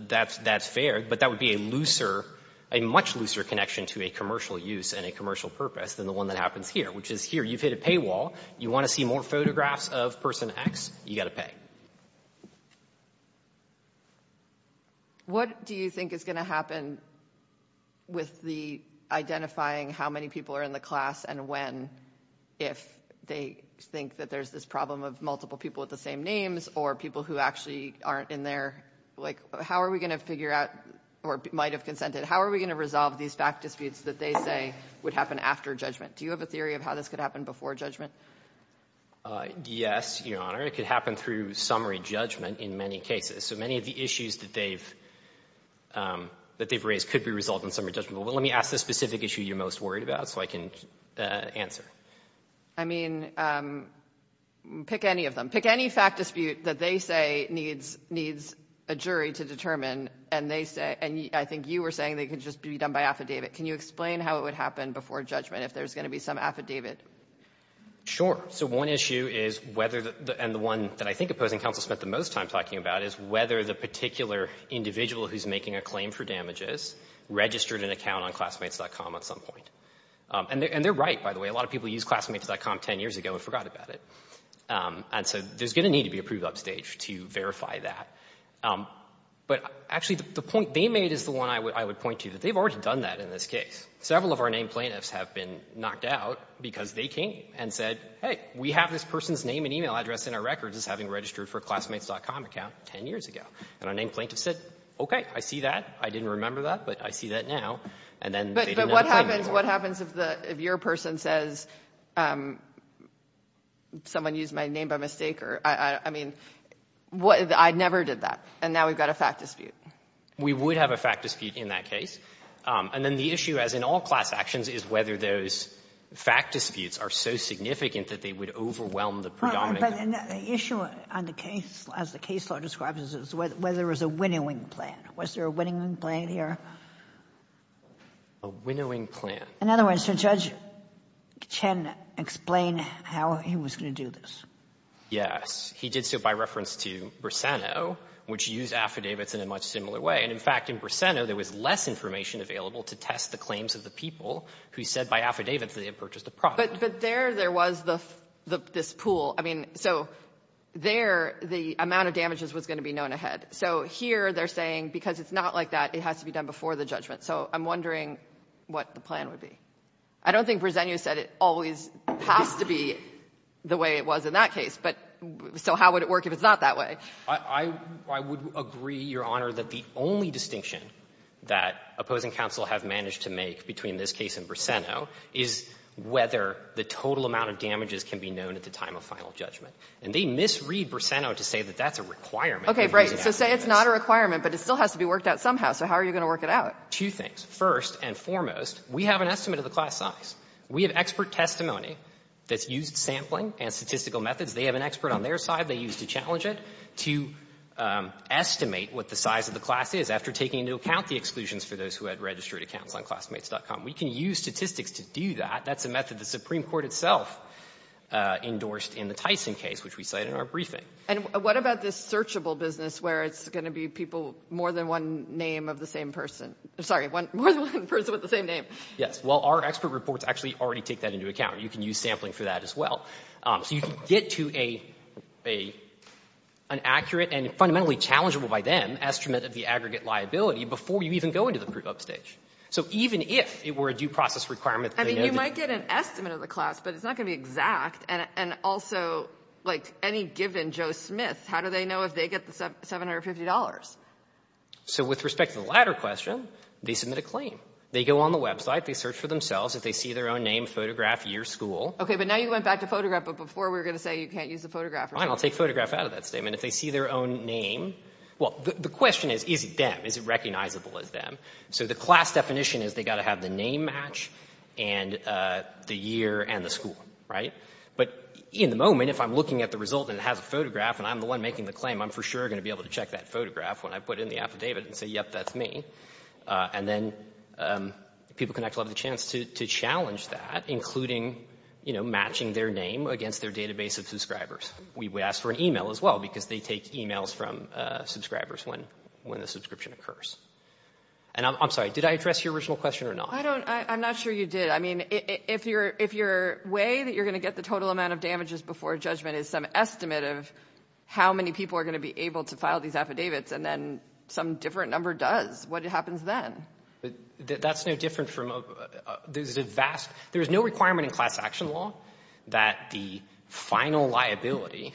That's fair, but that would be a looser, a much looser connection to a commercial use and a commercial purpose than the one that happens here, which is here. You've hit a paywall. You want to see more photographs of person X, you got to pay. What do you think is going to happen with the identifying how many people are in the class and when, if they think that there's this problem of multiple people with the same names or people who actually aren't in there? Like, how are we going to figure out or might have consented? How are we going to resolve these back disputes that they say would happen after judgment? Do you have a theory of how this could happen before judgment? Yes, Your Honor. It could happen through summary judgment in many cases. So many of the issues that they've that they've raised could be resolved in summary judgment. But let me ask the specific issue you're most worried about so I can answer. I mean, pick any of them. Pick any fact dispute that they say needs needs a jury to determine. And they say and I think you were saying they could just be done by affidavit. Can you explain how it would happen before judgment if there's going to be some affidavit? Sure. So one issue is whether and the one that I think opposing counsel spent the most time talking about is whether the particular individual who's making a claim for damages registered an account on classmates.com at some point. And they're right, by the way. A lot of people use classmates.com 10 years ago and forgot about it. And so there's going to need to be approved upstage to verify that. But actually, the point they made is the one I would point to, that they've already done that in this case. Several of our named plaintiffs have been knocked out because they came and said, hey, we have this person's name and email address in our records as having registered for a classmates.com account 10 years ago. And our named plaintiff said, okay, I see that. I didn't remember that, but I see that now. But what happens if your person says someone used my name by mistake? I mean, I never did that. And now we've got a fact dispute. We would have a fact dispute in that case. And then the issue, as in all class actions, is whether those fact disputes are so significant that they would overwhelm the predominant. But the issue on the case, as the case law describes it, is whether there was a winnowing plan. Was there a winnowing plan here? A winnowing plan. In other words, did Judge Chen explain how he was going to do this? Yes. He did so by reference to Briseno, which used affidavits in a much similar way. And, in fact, in Briseno, there was less information available to test the claims of the people who said by affidavit that they had purchased the product. But there there was this pool. I mean, so there the amount of damages was going to be known ahead. So here they're saying because it's not like that, it has to be done before the judgment. So I'm wondering what the plan would be. I don't think Briseno said it always has to be the way it was in that case, but so how would it work if it's not that way? I would agree, Your Honor, that the only distinction that opposing counsel have managed to make between this case and Briseno is whether the total amount of damages can be known at the time of final judgment. And they misread Briseno to say that that's a requirement. Right. So say it's not a requirement, but it still has to be worked out somehow. So how are you going to work it out? Two things. First and foremost, we have an estimate of the class size. We have expert testimony that's used sampling and statistical methods. They have an expert on their side they use to challenge it to estimate what the size of the class is after taking into account the exclusions for those who had registered accounts on classmates.com. We can use statistics to do that. That's a method the Supreme Court itself endorsed in the Tyson case, which we cited in our briefing. And what about this searchable business where it's going to be people more than one name of the same person? I'm sorry, more than one person with the same name. Yes. Well, our expert reports actually already take that into account. You can use sampling for that as well. So you can get to an accurate and fundamentally challengeable by them estimate of the aggregate liability before you even go into the proof upstage. So even if it were a due process requirement that they noted. I mean, you might get an estimate of the class, but it's not going to be exact. And also, like any given Joe Smith, how do they know if they get the $750? So with respect to the latter question, they submit a claim. They go on the website. They search for themselves. If they see their own name, photograph, year, school. Okay, but now you went back to photograph, but before we were going to say you can't use the photograph. I'll take photograph out of that statement. If they see their own name. Well, the question is, is it them? Is it recognizable as them? So the class definition is they got to have the name match and the year and the school, right? But in the moment, if I'm looking at the result and it has a photograph and I'm the one making the claim, I'm for sure going to be able to check that photograph when I put in the affidavit and say, yep, that's me. And then people can actually have the chance to challenge that, including, you know, matching their name against their database of subscribers. We ask for an e-mail as well because they take e-mails from subscribers when the subscription occurs. And I'm sorry, did I address your original question or not? I'm not sure you did. I mean, if your way that you're going to get the total amount of damages before judgment is some estimate of how many people are going to be able to file these affidavits and then some different number does, what happens then? That's no different from a — there's a vast — there's no requirement in class action law that the final liability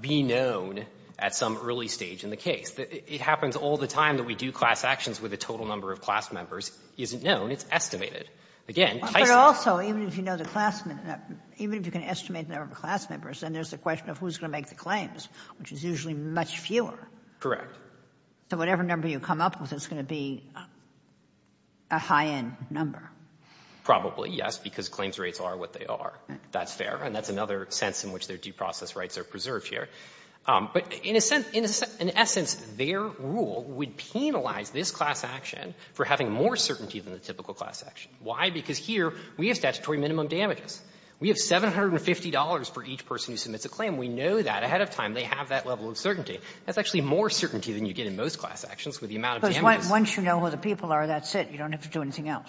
be known at some early stage in the case. It happens all the time that we do class actions where the total number of class members isn't known. It's estimated. Again, Tyson — But also, even if you know the class — even if you can estimate the number of class So whatever number you come up with is going to be a high-end number? Probably, yes, because claims rates are what they are. That's fair. And that's another sense in which their due process rights are preserved here. But in a sense — in essence, their rule would penalize this class action for having more certainty than the typical class action. Why? Because here we have statutory minimum damages. We have $750 for each person who submits a claim. We know that ahead of time they have that level of certainty. That's actually more certainty than you get in most class actions with the amount of damages. Because once you know who the people are, that's it. You don't have to do anything else.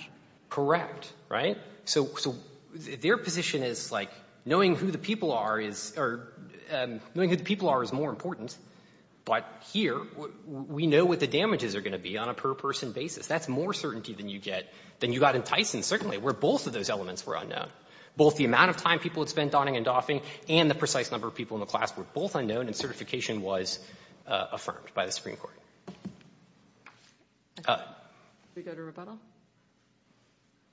Correct. Right? So their position is like knowing who the people are is — or knowing who the people are is more important, but here we know what the damages are going to be on a per-person basis. That's more certainty than you get — than you got in Tyson, certainly, where both of those elements were unknown. Both the amount of time people had spent donning and doffing and the precise number of people in the class were both unknown and certification was affirmed by the Supreme Court. Let's go to rebuttal.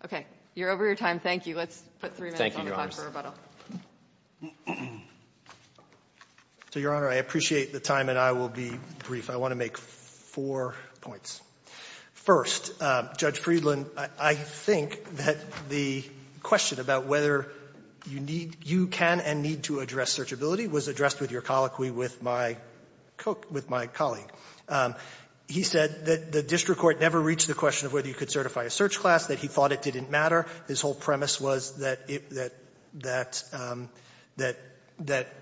Okay. You're over your time. Thank you. Let's put three minutes on the clock for rebuttal. So, Your Honor, I appreciate the time and I will be brief. I want to make four points. First, Judge Friedland, I think that the question about whether you need — you can and need to address searchability was addressed with your colloquy with my colleague. He said that the district court never reached the question of whether you could certify a search class, that he thought it didn't matter. His whole premise was that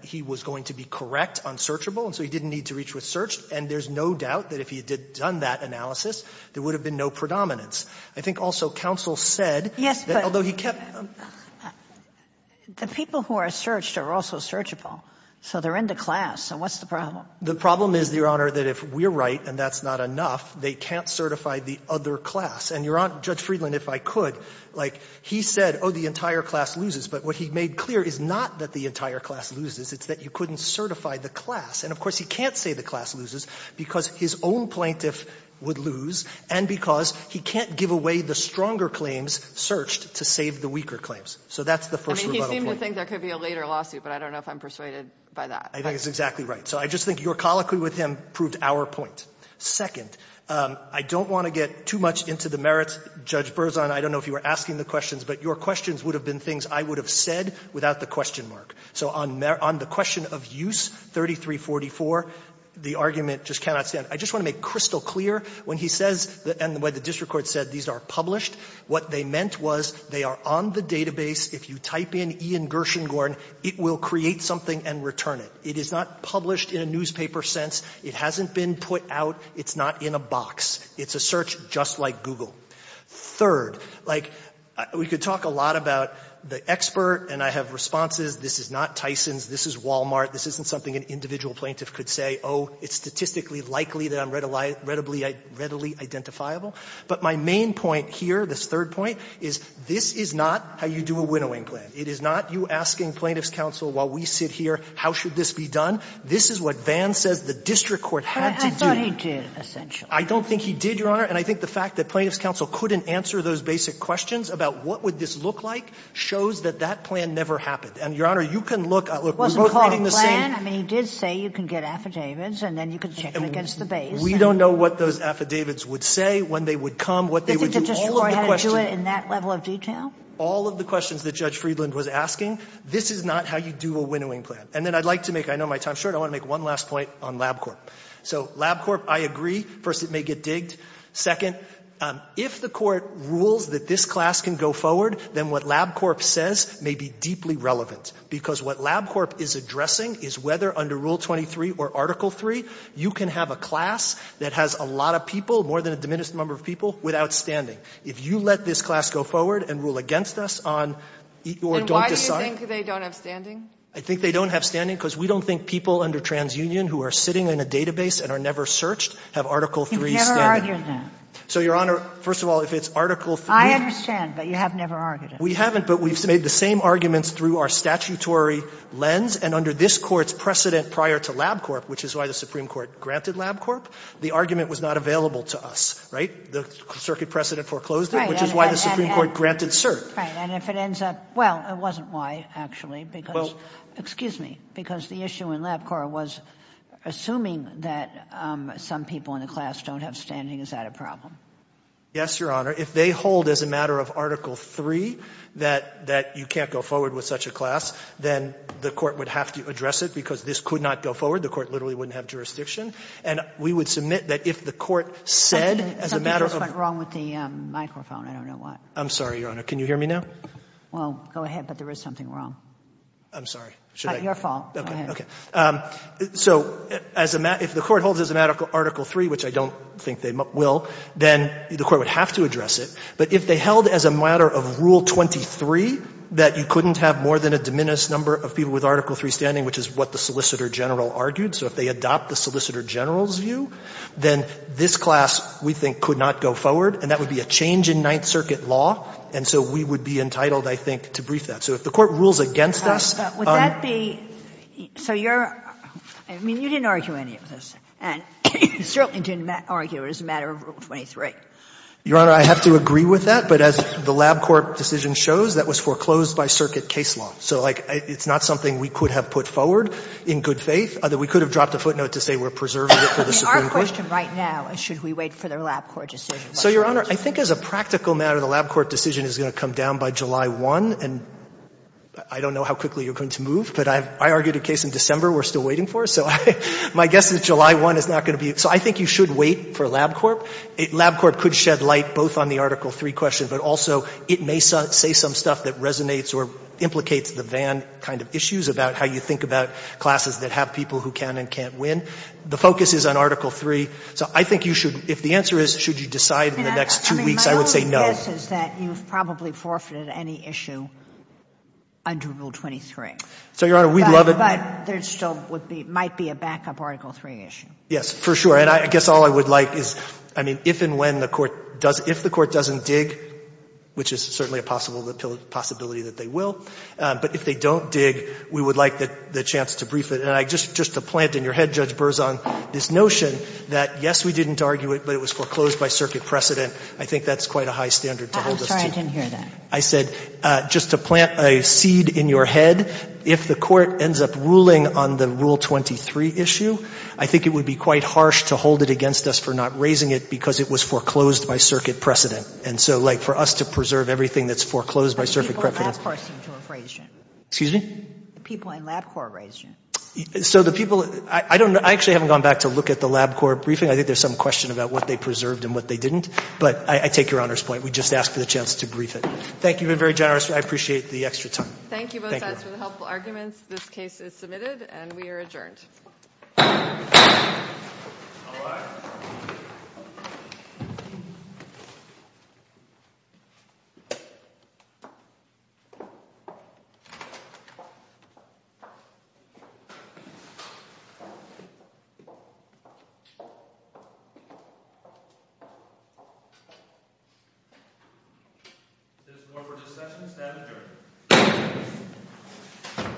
he was going to be correct on searchable, and so he didn't need to reach with search. And there's no doubt that if he had done that analysis, there would have been no predominance. I think also counsel said that although he kept — But he said that the claims that he searched are also searchable. So they're in the class. So what's the problem? The problem is, Your Honor, that if we're right and that's not enough, they can't certify the other class. And, Your Honor, Judge Friedland, if I could, like, he said, oh, the entire class loses. But what he made clear is not that the entire class loses. It's that you couldn't certify the class. And, of course, he can't say the class loses because his own plaintiff would lose and because he can't give away the stronger claims searched to save the weaker claims. So that's the first rebuttal point. I think there could be a later lawsuit, but I don't know if I'm persuaded by that. I think it's exactly right. So I just think your colloquy with him proved our point. Second, I don't want to get too much into the merits. Judge Berzon, I don't know if you were asking the questions, but your questions would have been things I would have said without the question mark. So on the question of use 3344, the argument just cannot stand. I just want to make crystal clear when he says, and the way the district court said these are published, what they meant was they are on the database. If you type in Ian Gershengorn, it will create something and return it. It is not published in a newspaper sense. It hasn't been put out. It's not in a box. It's a search just like Google. Third, like, we could talk a lot about the expert, and I have responses. This is not Tyson's. This is Walmart. This isn't something an individual plaintiff could say. Oh, it's statistically likely that I'm readily identifiable. But my main point here, this third point, is this is not how you do a winnowing plan. It is not you asking plaintiffs' counsel, while we sit here, how should this be done? This is what Vann says the district court had to do. But I thought he did, essentially. I don't think he did, Your Honor. And I think the fact that plaintiffs' counsel couldn't answer those basic questions about what would this look like shows that that plan never happened. And, Your Honor, you can look. Look, we're both reading the same. It wasn't called a plan. I mean, he did say you can get affidavits and then you can check against the base. We don't know what those affidavits would say, when they would come, what they would do, all of the questions. All of the questions that Judge Friedland was asking, this is not how you do a winnowing plan. And then I'd like to make, I know my time is short, I want to make one last point on LabCorp. So LabCorp, I agree. First, it may get digged. Second, if the Court rules that this class can go forward, then what LabCorp says may be deeply relevant, because what LabCorp is addressing is whether under Rule 23 or Article III, you can have a class that has a lot of people, more than a diminished number of people, without standing. If you let this class go forward and rule against us on or don't decide. And why do you think they don't have standing? I think they don't have standing because we don't think people under TransUnion who are sitting in a database and are never searched have Article III standing. You've never argued that. So, Your Honor, first of all, if it's Article III. I understand, but you have never argued it. We haven't, but we've made the same arguments through our statutory lens. And under this Court's precedent prior to LabCorp, which is why the Supreme Court granted LabCorp, the argument was not available to us, right? The circuit precedent foreclosed it, which is why the Supreme Court granted cert. And if it ends up — well, it wasn't why, actually, because — Excuse me. Because the issue in LabCorp was assuming that some people in the class don't have standing. Is that a problem? Yes, Your Honor. If they hold as a matter of Article III that you can't go forward with such a class, then the Court would have to address it, because this could not go forward. The Court literally wouldn't have jurisdiction. And we would submit that if the Court said as a matter of — Something just went wrong with the microphone. I don't know why. I'm sorry, Your Honor. Can you hear me now? Well, go ahead. But there is something wrong. I'm sorry. Should I — It's not your fault. Go ahead. Okay. So if the Court holds as a matter of Article III, which I don't think they will, then the Court would have to address it. But if they held as a matter of Rule 23 that you couldn't have more than a diminished number of people with Article III standing, which is what the Solicitor General argued, so if they adopt the Solicitor General's view, then this class, we think, could not go forward. And that would be a change in Ninth Circuit law. And so we would be entitled, I think, to brief that. So if the Court rules against us — Would that be — so you're — I mean, you didn't argue any of this. And you certainly didn't argue it as a matter of Rule 23. Your Honor, I have to agree with that. But as the LabCorp decision shows, that was foreclosed by Circuit case law. So, like, it's not something we could have put forward in good faith. We could have dropped a footnote to say we're preserving it for the Supreme Court. Our question right now is should we wait for the LabCorp decision? So, Your Honor, I think as a practical matter, the LabCorp decision is going to come down by July 1. And I don't know how quickly you're going to move, but I argued a case in December we're still waiting for. So my guess is July 1 is not going to be — so I think you should wait for LabCorp. LabCorp could shed light both on the Article III question, but also it may say some stuff that resonates or implicates the Vann kind of issues about how you think about classes that have people who can and can't win. The focus is on Article III. So I think you should — if the answer is should you decide in the next two weeks, I would say no. I mean, my only guess is that you've probably forfeited any issue under Rule 23. So, Your Honor, we'd love it — But there still would be — might be a backup Article III issue. Yes, for sure. And I guess all I would like is — I mean, if and when the Court — if the Court doesn't dig, which is certainly a possibility that they will, but if they don't dig, we would like the chance to brief it. And just to plant in your head, Judge Berzon, this notion that, yes, we didn't argue it, but it was foreclosed by circuit precedent, I think that's quite a high standard to hold us to. I'm sorry, I didn't hear that. I said just to plant a seed in your head, if the Court ends up ruling on the Rule 23 issue, I think it would be quite harsh to hold it against us for not raising it because it was foreclosed by circuit precedent. And so, like, for us to preserve everything that's foreclosed by circuit precedent — But the people in LabCorp seem to have raised it. Excuse me? The people in LabCorp raised it. So the people — I don't — I actually haven't gone back to look at the LabCorp briefing. I think there's some question about what they preserved and what they didn't. But I take Your Honor's point. We just ask for the chance to brief it. Thank you. You've been very generous. I appreciate the extra time. Thank you. Thank you, both sides, for the helpful arguments. This case is submitted, and we are adjourned. All rise. If there's more for discussion, stand adjourned.